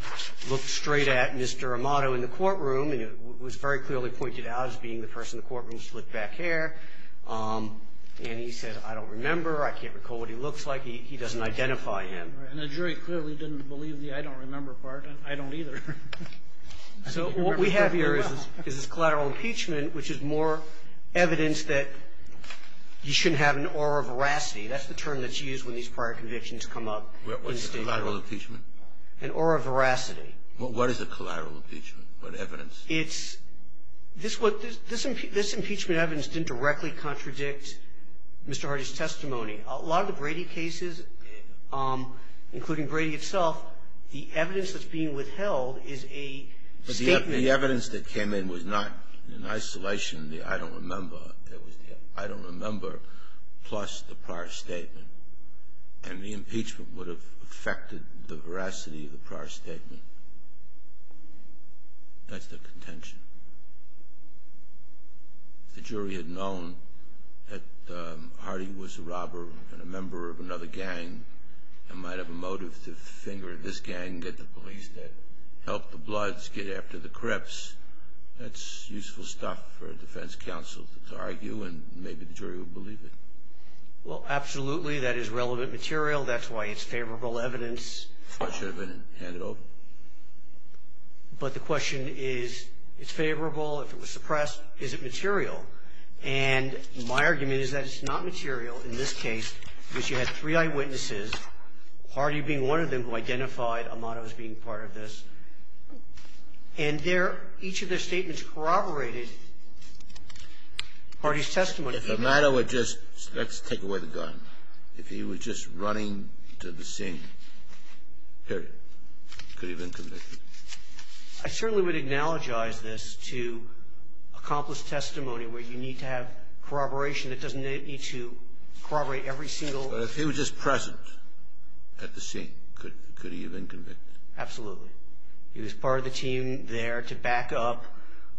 looked straight at Mr. Amado in the courtroom, and it was very clearly pointed out as being the person in the courtroom with split back hair. And he said, I don't remember. I can't recall what he looks like. He doesn't identify him. And the jury clearly didn't believe the I don't remember part. I don't either. So what we have here is this collateral impeachment, which is more evidence that you shouldn't have an aura of veracity. That's the term that's used when these prior convictions come up. What's a collateral impeachment? An aura of veracity. Well, what is a collateral impeachment? What evidence? It's this impeachment evidence didn't directly contradict Mr. Hardy's testimony. A lot of the Brady cases, including Brady itself, the evidence that's being withheld is a statement. But the evidence that came in was not in isolation the I don't remember. It was the I don't remember plus the prior statement. And the impeachment would have affected the veracity of the prior statement. That's the contention. If the jury had known that Hardy was a robber and a member of another gang and might have a motive to finger this gang, get the police to help the Bloods get after the Crips, that's useful stuff for a defense counsel to argue, and maybe the jury would believe it. Well, absolutely. That is relevant material. That's why it's favorable evidence. It should have been handed over. But the question is, it's favorable. If it was suppressed, is it material? And my argument is that it's not material in this case because you had three eyewitnesses, Hardy being one of them who identified Amato as being part of this. And each of their statements corroborated Hardy's testimony. If Amato had just let's take away the gun. If he were just running to the scene, period, could he have been convicted? I certainly would acknowledge this to accomplish testimony where you need to have corroboration. It doesn't need to corroborate every single. But if he was just present at the scene, could he have been convicted? Absolutely. He was part of the team there to back up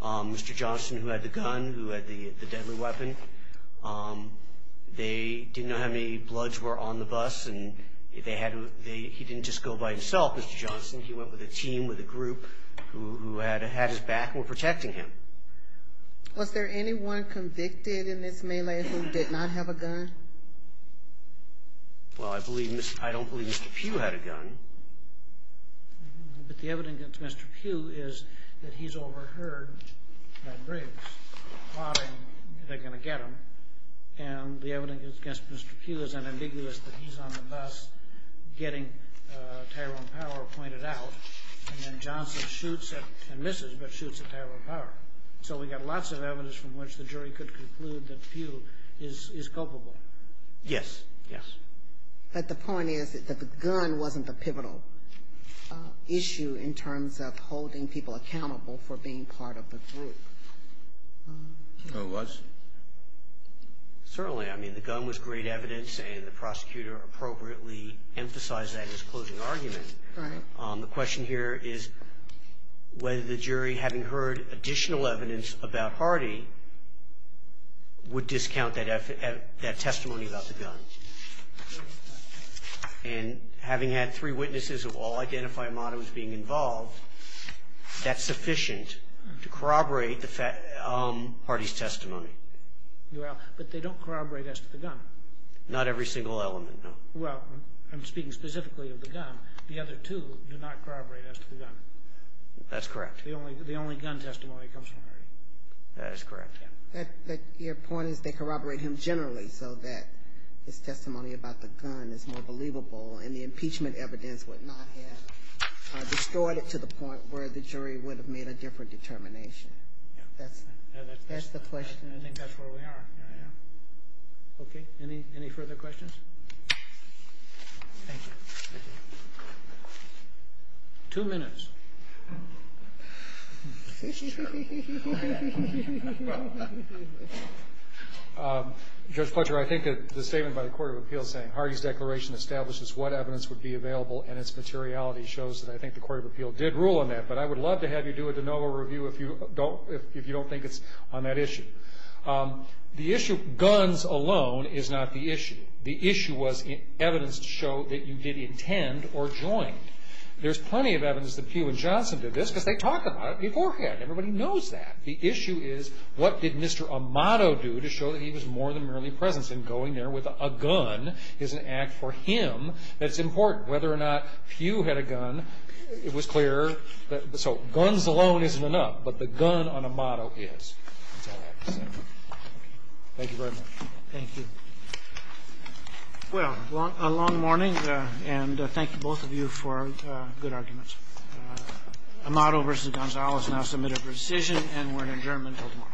Mr. Johnson who had the gun, who had the deadly weapon. They didn't know how many bloods were on the bus, and he didn't just go by himself, Mr. Johnson. He went with a team, with a group who had his back and were protecting him. Was there anyone convicted in this melee who did not have a gun? Well, I don't believe Mr. Pugh had a gun. But the evidence against Mr. Pugh is that he's overheard by Briggs plotting they're going to get him. And the evidence against Mr. Pugh is unambiguous that he's on the bus getting Tyrone Power pointed out. And then Johnson shoots and misses, but shoots at Tyrone Power. So we've got lots of evidence from which the jury could conclude that Pugh is culpable. Yes. Yes. But the point is that the gun wasn't the pivotal issue in terms of holding people accountable for being part of the group. No, it was. Certainly. I mean, the gun was great evidence, and the prosecutor appropriately emphasized that in his closing argument. Right. The question here is whether the jury, having heard additional evidence about Hardy, would discount that testimony about the gun. And having had three witnesses of all identified modems being involved, that's sufficient to corroborate Hardy's testimony. But they don't corroborate as to the gun. Not every single element, no. Well, I'm speaking specifically of the gun. The other two do not corroborate as to the gun. That's correct. The only gun testimony comes from Hardy. That is correct. But your point is they corroborate him generally so that his testimony about the gun is more believable, and the impeachment evidence would not have destroyed it to the point where the jury would have made a different determination. That's the question. I think that's where we are. Okay. Any further questions? Thank you. Two minutes. Judge Pletcher, I think the statement by the Court of Appeals saying Hardy's declaration establishes what evidence would be available and its materiality shows that I think the Court of Appeals did rule on that, but I would love to have you do a de novo review if you don't think it's on that issue. The issue of guns alone is not the issue. The issue was evidence to show that you did intend or joined. There's plenty of evidence that Pugh and Johnson did this because they talked about it beforehand. Everybody knows that. The issue is what did Mr. Amato do to show that he was more than merely present, and going there with a gun is an act for him that's important. Whether or not Pugh had a gun, it was clear. So guns alone isn't enough, but the gun on Amato is. That's all I have to say. Thank you very much. Thank you. Well, a long morning, and thank you, both of you, for good arguments. Amato v. Gonzales now submitted for decision, and we're adjourned until tomorrow.